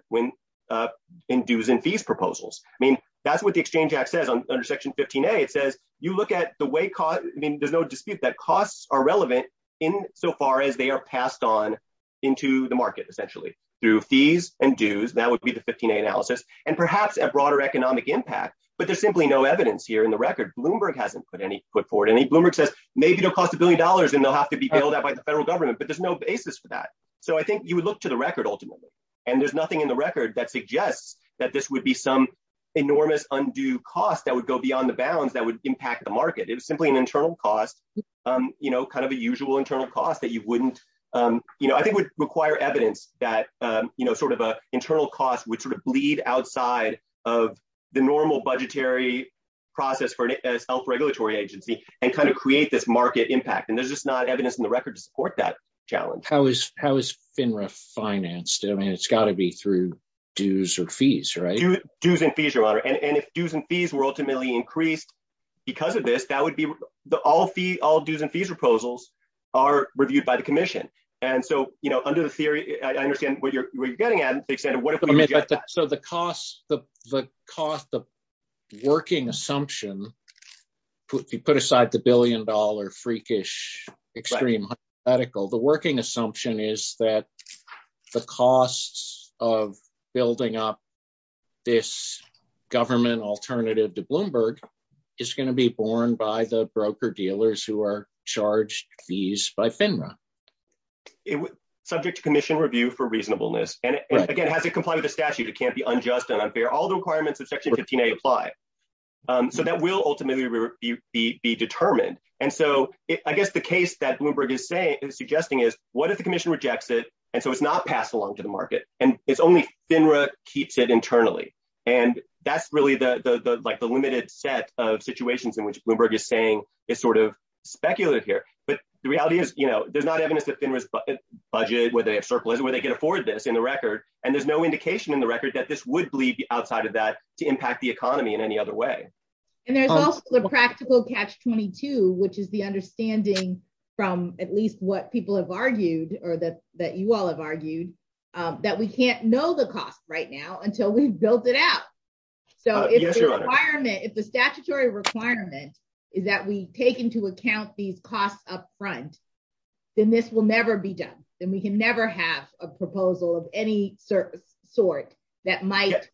in dues and fees proposals. I mean, that's what the Exchange Act says under Section 15A. It says you look at the way cost, I mean, there's no dispute that costs are relevant in so far as they are passed on into the market, essentially, through fees and dues. That would be the 15A analysis, and perhaps a broader economic impact, but there's simply no evidence here in the record. Bloomberg hasn't put forward any. Bloomberg says maybe it'll cost a billion dollars, and they'll have to be billed out by the federal government, but there's no basis for that, so I think you would look to the record, ultimately, and there's nothing in the record that suggests that this would be some enormous undue cost that would go beyond the bounds that would impact the market. It's simply an internal cost, kind of a usual internal cost that you wouldn't... I think it would require evidence that sort of an internal cost would bleed outside of the normal budgetary process for a health regulatory agency and kind of create this to support that challenge. How is FINRA financed? I mean, it's got to be through dues or fees, right? Dues and fees, Your Honor, and if dues and fees were ultimately increased because of this, that would be... all dues and fees proposals are reviewed by the commission, and so, you know, under the theory, I understand what you're getting at. So the cost of working assumption, you put aside the billion-dollar freakish extreme hypothetical, the working assumption is that the costs of building up this government alternative to Bloomberg is going to be borne by the broker-dealers who are charged fees by FINRA. Subject to commission review for reasonableness, and again, it has to comply with the statutes. It can't be unjust and unfair. All the requirements of Section 15a apply, so that will ultimately be determined, and so I guess the case that Bloomberg is saying is suggesting is what if the commission rejects it, and so it's not passed along to the market, and it's only FINRA keeps it internally, and that's really the limited set of situations in which Bloomberg is saying it's sort of speculative here, but the reality is, you know, there's not evidence that FINRA's budget, whether it's surplus, whether they can afford this in the record, and there's no indication in the record that this would bleed outside of that to impact the economy in any other way. And there's also a practical catch-22, which is the understanding from at least what people have argued or that you all have argued, that we can't know the cost right now until we've built it out, so if the requirement, if the statutory requirement is that we take into account these costs up front, then this will never be done, then we can never have a proposal of any sort that might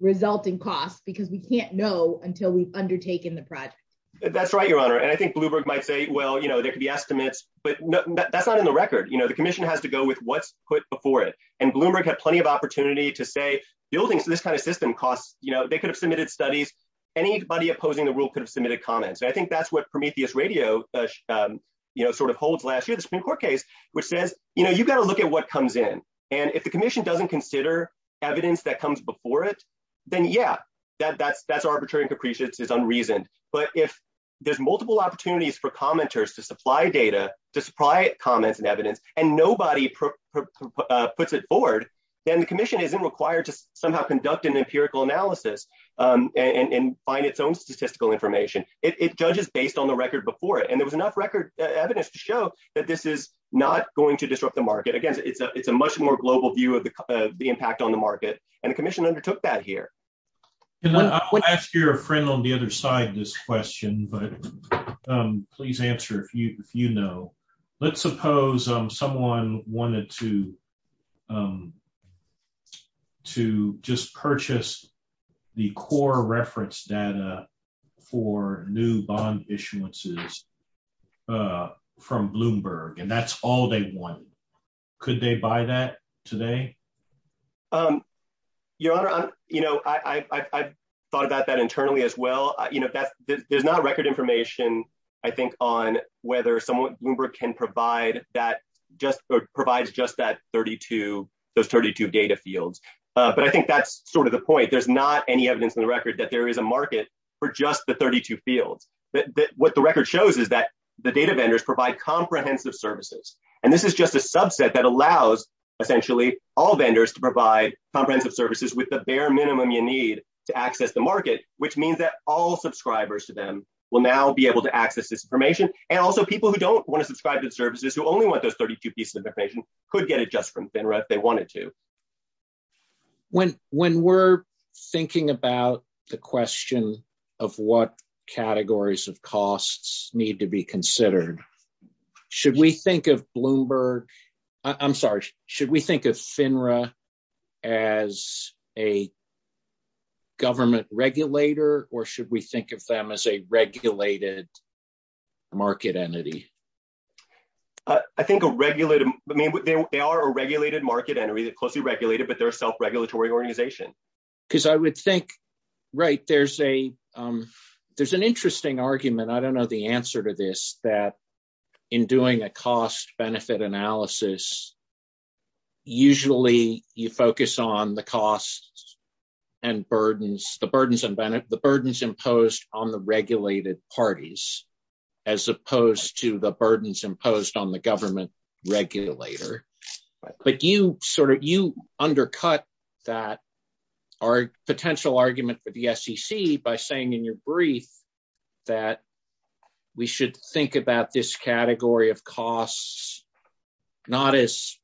result in cost because we can't know until we've undertaken the project. That's right, your honor, and I think Bloomberg might say, well, you know, there could be estimates, but that's not in the record, you know, the commission has to go with what's put before it, and Bloomberg had plenty of opportunity to say, building this kind of system costs, you know, they could have submitted studies, anybody opposing the rule could have submitted comments, I think that's what Prometheus Radio, you know, sort of holds last year, the Supreme Court, you know, you've got to look at what comes in, and if the commission doesn't consider evidence that comes before it, then yeah, that's arbitrary and capricious, it's unreasoned, but if there's multiple opportunities for commenters to supply data, to supply comments and evidence, and nobody puts it forward, then the commission isn't required to somehow conduct an empirical analysis and find its own statistical information, it judges based on the record before it, and there was enough record evidence to show that this is not going to disrupt the market, again, it's a much more global view of the impact on the market, and the commission undertook that here. And I would ask your friend on the other side this question, but please answer if you know, let's suppose someone wanted to just purchase the core reference data for new bond issuances, from Bloomberg, and that's all they want, could they buy that today? Your Honor, you know, I've thought about that internally as well, you know, that, there's not record information, I think, on whether someone, Bloomberg can provide that, just provides just that 32, the 32 data fields, but I think that's sort of the point, there's not any evidence in that there is a market for just the 32 fields, what the record shows is that the data vendors provide comprehensive services, and this is just a subset that allows, essentially, all vendors to provide comprehensive services with the bare minimum you need to access the market, which means that all subscribers to them will now be able to access this information, and also people who don't want to subscribe to services, who only want those 32 pieces of information, could get it from FINRA if they wanted to. When we're thinking about the question of what categories of costs need to be considered, should we think of Bloomberg, I'm sorry, should we think of FINRA as a government regulator, or should we think of them as a regulated market entity? I think a regulated, I mean, they are a regulated market entity, they're closely regulated, but they're a self-regulatory organization. Because I would think, right, there's a, there's an interesting argument, I don't know the answer to this, that in doing a cost-benefit analysis, usually you focus on the costs and burdens, the burdens imposed on the regulated parties, as opposed to the burdens imposed on the government regulator. But you sort of, you undercut that, our potential argument for the SEC, by saying in your brief that we should think about this category of costs, not as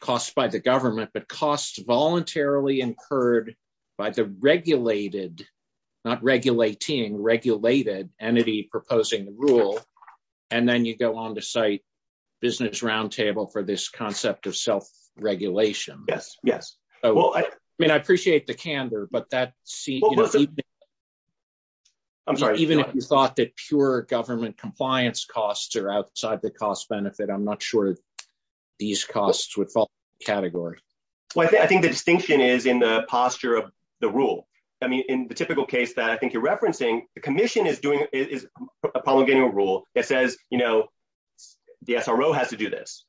costs by the government, but costs voluntarily incurred by the regulated, not regulating, regulated entity proposing the rule, and then you go on to cite Business Roundtable for this concept of self-regulation. Yes, yes. Well, I mean, I appreciate the candor, but that's even if you thought that pure government compliance costs are outside the cost-benefit, I'm not sure these costs would fall into the category. Well, I think the distinction is in the posture of the rule. I mean, in the typical case that I think you're referencing, the Commission is doing, is promulgating a rule that says, you know, the SRO has to do this,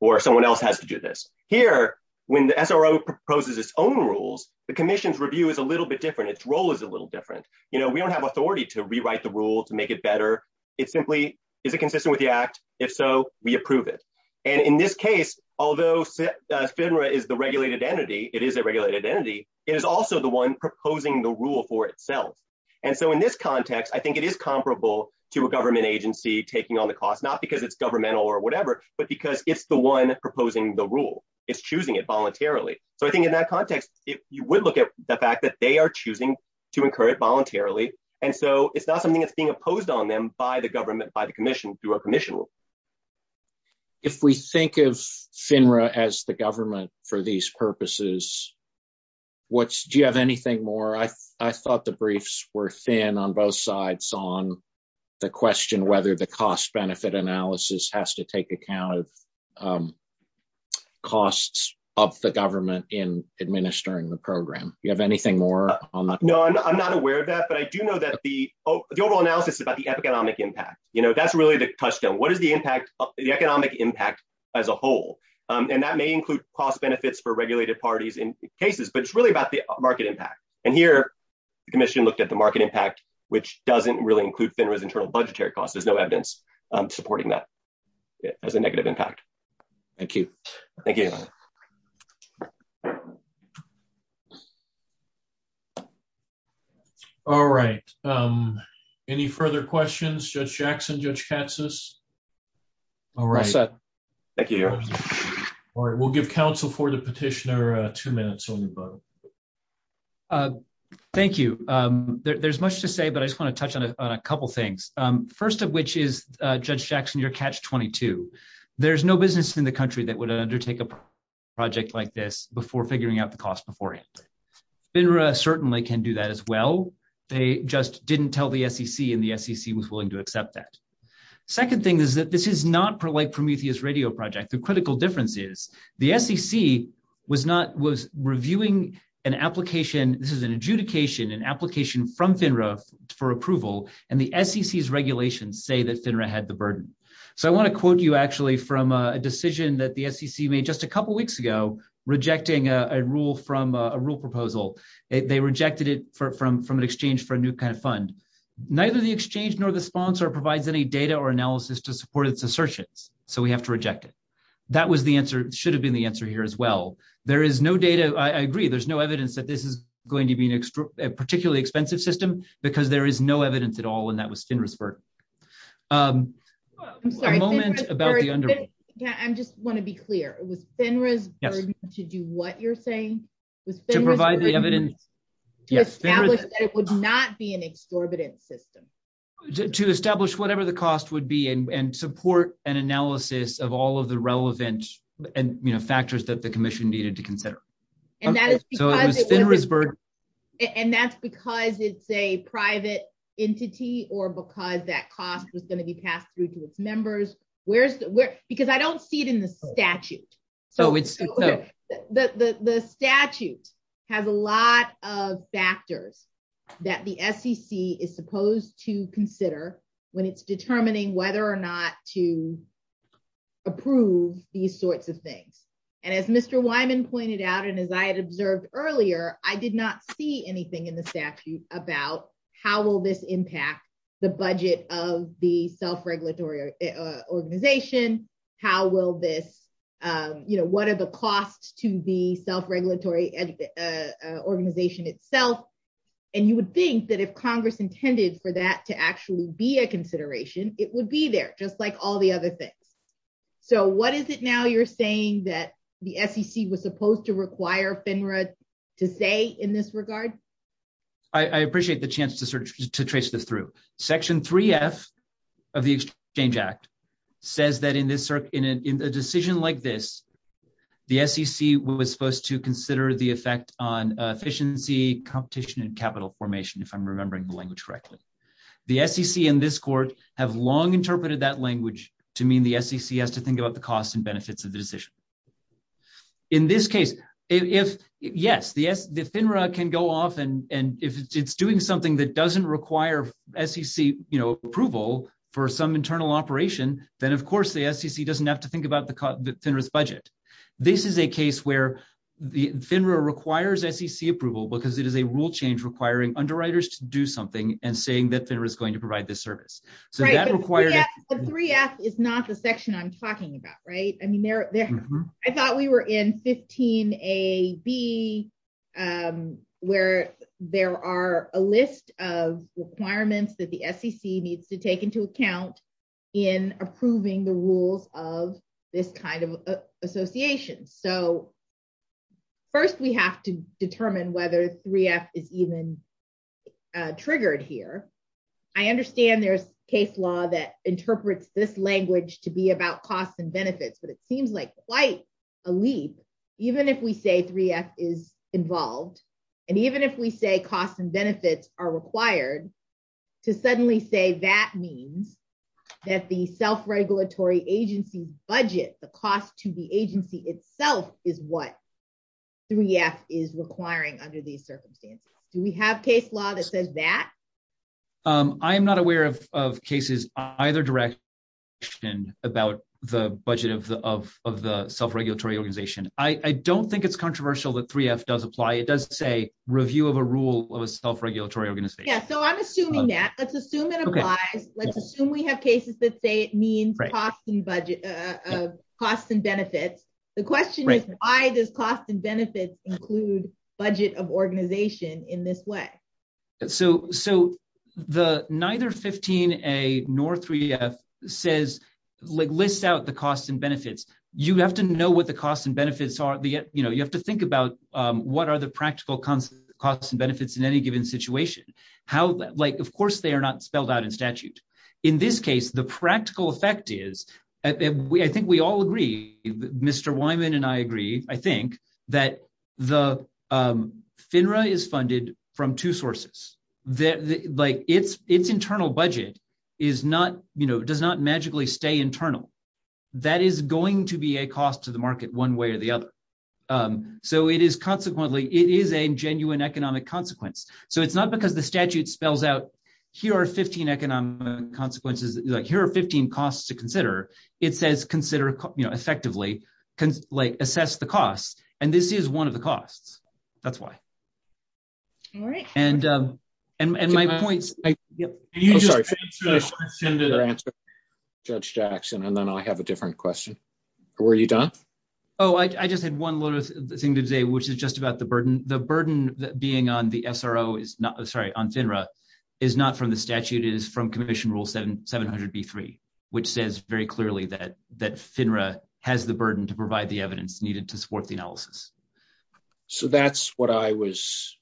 or someone else has to do this. Here, when the SRO proposes its own rules, the Commission's review is a little bit different, its role is a little different. You know, we don't have authority to rewrite the rules and make it better. It simply, is it consistent with the Act? If so, we approve it. And in this case, although FINRA is the regulated entity, it is a regulated entity, it is also the one proposing the rule for itself. And so in this context, I think it is comparable to a government agency taking on the cost, not because it's governmental or whatever, but because it's the one proposing the rule. It's choosing it voluntarily. So I think in that context, you would look at the fact that they are choosing to incur it voluntarily. And so it's not something that's being opposed on them by the government, by the Commission, through a Commission rule. If we think of FINRA as the government for these purposes, do you have anything more? I thought the briefs were thin on both sides on the question whether the cost-benefit analysis has to take account of costs of the government in administering the program. Do you have anything more on that? No, I'm not aware of that, but I do know that the overall analysis is about the economic impact. That's really the touchstone. What is the impact, the economic impact as a whole? And that may include cost benefits for regulated parties in cases, but it's really about the market impact. And here, the Commission looked at the market impact, which doesn't really include FINRA's internal budgetary costs. There's no evidence supporting that as a negative impact. Thank you. Thank you. All right. Any further questions? Judge Jackson, Judge Katsas? All right. We'll give counsel for the petitioner two minutes on the phone. Thank you. There's much to say, but I just want to touch on a couple things. First of which is, Judge Jackson, you're catch-22. There's no business in the country that would undertake a project like this before figuring out the cost beforehand. FINRA certainly can do that as well. They just didn't tell the SEC, and the SEC was willing to accept that. Second thing is that this is not like Prometheus Radio Project. The critical difference is the SEC was reviewing an application. This is an adjudication, an application from FINRA for approval, and the SEC's regulations say that FINRA had the burden. So, I want to quote you, from a decision that the SEC made just a couple weeks ago, rejecting a rule proposal. They rejected it from an exchange for a new kind of fund. Neither the exchange nor the sponsor provides any data or analysis to support its assertions, so we have to reject it. That should have been the answer here as well. There is no data. I agree. There's no evidence that this is going to be a particularly expensive system, because there is no evidence at all, and that was FINRA's burden. I just want to be clear. It was FINRA's burden to do what you're saying? To establish whatever the cost would be and support an analysis of all of the relevant factors that the Commission needed to consider. And that's because it's a private entity or because that cost was going to be passed through to its members. Because I don't see it in the statute. The statute has a lot of factors that the SEC is supposed to consider when it's determining whether or not to approve these sorts of things. As Mr. Wyman pointed out, and as I had observed earlier, I did not see anything in the statute about how will this budget of the self-regulatory organization, what are the costs to the self-regulatory organization itself. And you would think that if Congress intended for that to actually be a consideration, it would be there, just like all the other things. So what is it now you're saying that the SEC was supposed to require FINRA to say in this regard? I appreciate the chance to trace it through. Section 3F of the Exchange Act says that in a decision like this, the SEC was supposed to consider the effect on efficiency, competition, and capital formation, if I'm remembering the language correctly. The SEC and this Court have long interpreted that language to mean the SEC has to think about the costs and benefits of the decision. In this case, yes, the FINRA can go off and if it's doing something that doesn't require SEC approval for some internal operation, then of course the SEC doesn't have to think about the FINRA's budget. This is a case where the FINRA requires SEC approval because it is a rule change requiring underwriters to do something and saying that FINRA is going to provide this service. So that requires... The 3F is not the team A, B, where there are a list of requirements that the SEC needs to take into account in approving the rules of this kind of association. So first we have to determine whether 3F is even triggered here. I understand there's case law that interprets this language to be about costs and benefits, but it seems like quite a leap, even if we say 3F is involved and even if we say costs and benefits are required, to suddenly say that means that the self-regulatory agency's budget, the cost to the agency itself, is what 3F is requiring under these circumstances. Do we have case law that says that? I'm not aware of cases either direction about the budget of the self-regulatory organization. I don't think it's controversial that 3F does apply. It does say review of a rule of a self-regulatory organization. Yeah, so I'm assuming that. Let's assume it applies. Let's assume we have cases that say it means costs and benefits. The question is why does cost and benefits include budget of organization in this way? So the neither 15A nor 3F says, lists out the costs and benefits. You have to know what the costs and benefits are. You have to think about what are the practical costs and benefits in any given situation. Of course they are not spelled out in statute. In this case, the practical effect is, I think we all agree, Mr. Wyman and I agree, I think that the FINRA is funded from two sources. Like its internal budget is not, you know, does not magically stay internal. That is going to be a cost to the market one way or the other. So it is consequently, it is a genuine economic consequence. So it's not because the statute spells out here are 15 economic consequences, like here are 15 costs to consider. It says consider, you know, effectively assess the costs. And this is one of the costs. That's why. All right. And my point, I'm sorry. Judge Jackson, and then I have a different question. Were you done? Oh, I just had one little thing to say, which is just about the burden. The burden that being on the SRO is not, sorry, on FINRA is not from the statute. It is commission rule 700B3, which says very clearly that FINRA has the burden to provide the evidence needed to support the analysis. So that's what I was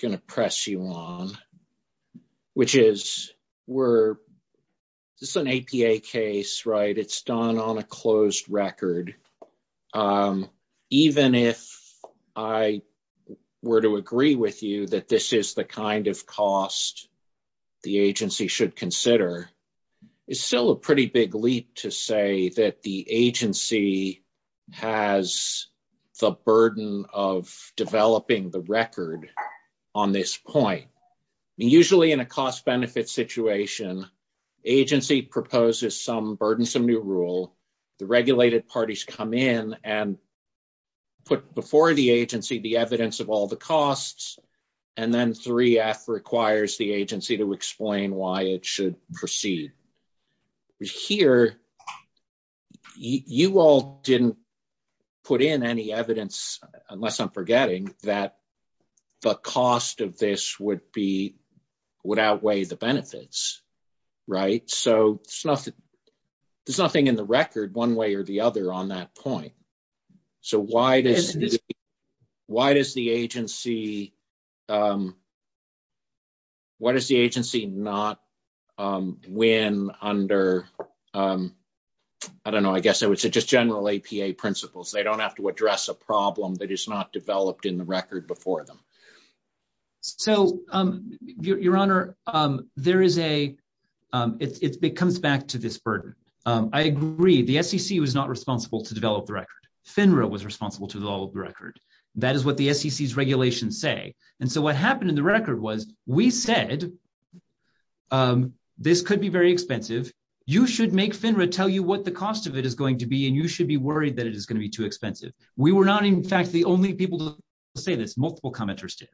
going to press you on, which is, we're, this is an APA case, right? It's done on a closed record. Even if I were to agree with you that this is the kind of cost the agency should consider, it's still a pretty big leap to say that the agency has the burden of developing the record on this point. Usually in a cost benefit situation, agency proposes some burdensome new rule, the regulated parties come in and put before the agency, the evidence of all the costs, and then 3F requires the agency to explain why it should proceed. Here, you all didn't put in any evidence, unless I'm forgetting, that the cost of this would be, would outweigh the benefits, right? So there's nothing in the record one way or the other on that point. So why does, why does the agency, why does the agency not win under, I don't know, I guess it was just general APA principles. They don't have to address a problem that is not developed in the record before them. So your honor, there is a, it comes back to this burden. I agree, the SEC was not responsible to develop the record. FINRA was responsible to develop the record. That is what the SEC's regulations say. And so what happened in the record was, we said, this could be very expensive. You should make FINRA tell you what the cost of it is going to be, and you should be worried that it is going to be too expensive. We were not, in fact, the only people to say this, multiple commenters did.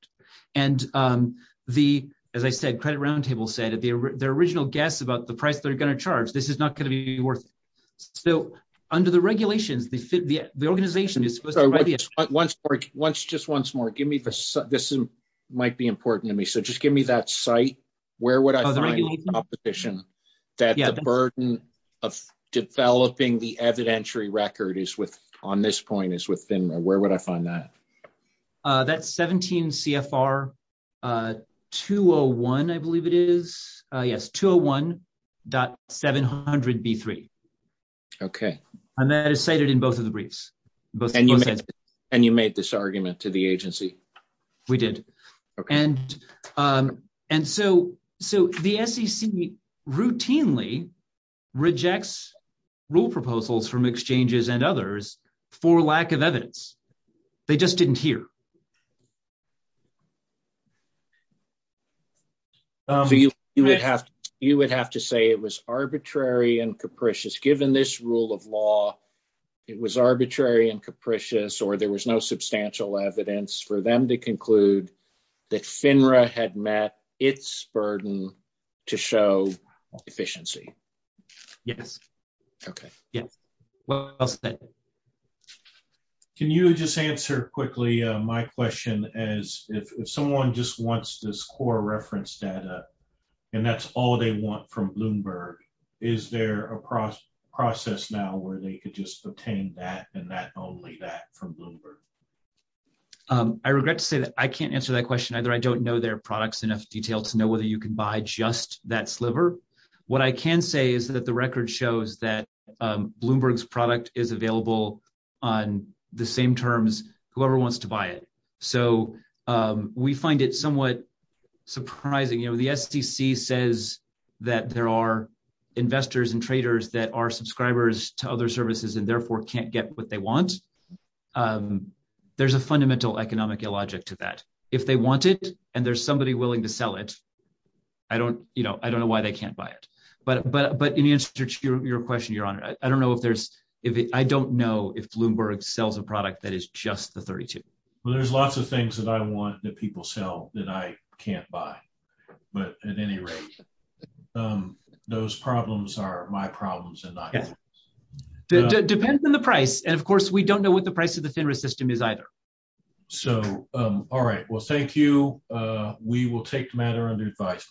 And the, as I said, credit round table said, their original guess about the price they're going to charge, this is not going to be worth it. So under the regulations, the organization is supposed to be ready. Once, just once more, give me the, this might be important to me. So just give me that site. Where would I find the competition that the burden of developing the evidentiary record is with, on this point is with FINRA. Where would I find that? That 17 CFR 201, I believe it is. Yes. 201.700B3. Okay. And that is cited in both of the briefs. And you made this argument to the agency? We did. And so the SEC routinely rejects rule proposals from exchanges and others for lack of evidence. They just didn't hear. You would have to say it was arbitrary and capricious. Given this rule of law, it was arbitrary and capricious, or there was no substantial evidence for them to conclude that FINRA had met its burden to show efficiency. Yes. Okay. Can you just answer quickly? My question is if someone just wants this core reference data and that's all they want from Bloomberg, is there a process now where they could just obtain that only that from Bloomberg? I regret to say that I can't answer that question either. I don't know their products in enough detail to know whether you can buy just that sliver. What I can say is that the record shows that Bloomberg's product is available on the same terms, whoever wants to buy it. So we find it somewhat surprising. The SEC says that there are investors and traders that are subscribers to other services and therefore can't get what they want. There's a fundamental economic illogic to that. If they want it and there's somebody willing to sell it, I don't know why they can't buy it. But in answer to your question, Your Honor, I don't know if Bloomberg sells a product that is just the 32. Well, there's lots of things that want that people sell that I can't buy. But at any rate, those problems are my problems. Depends on the price. And of course, we don't know what the price of the stimulus system is either. So, all right. Well, thank you. We will take the matter under advice.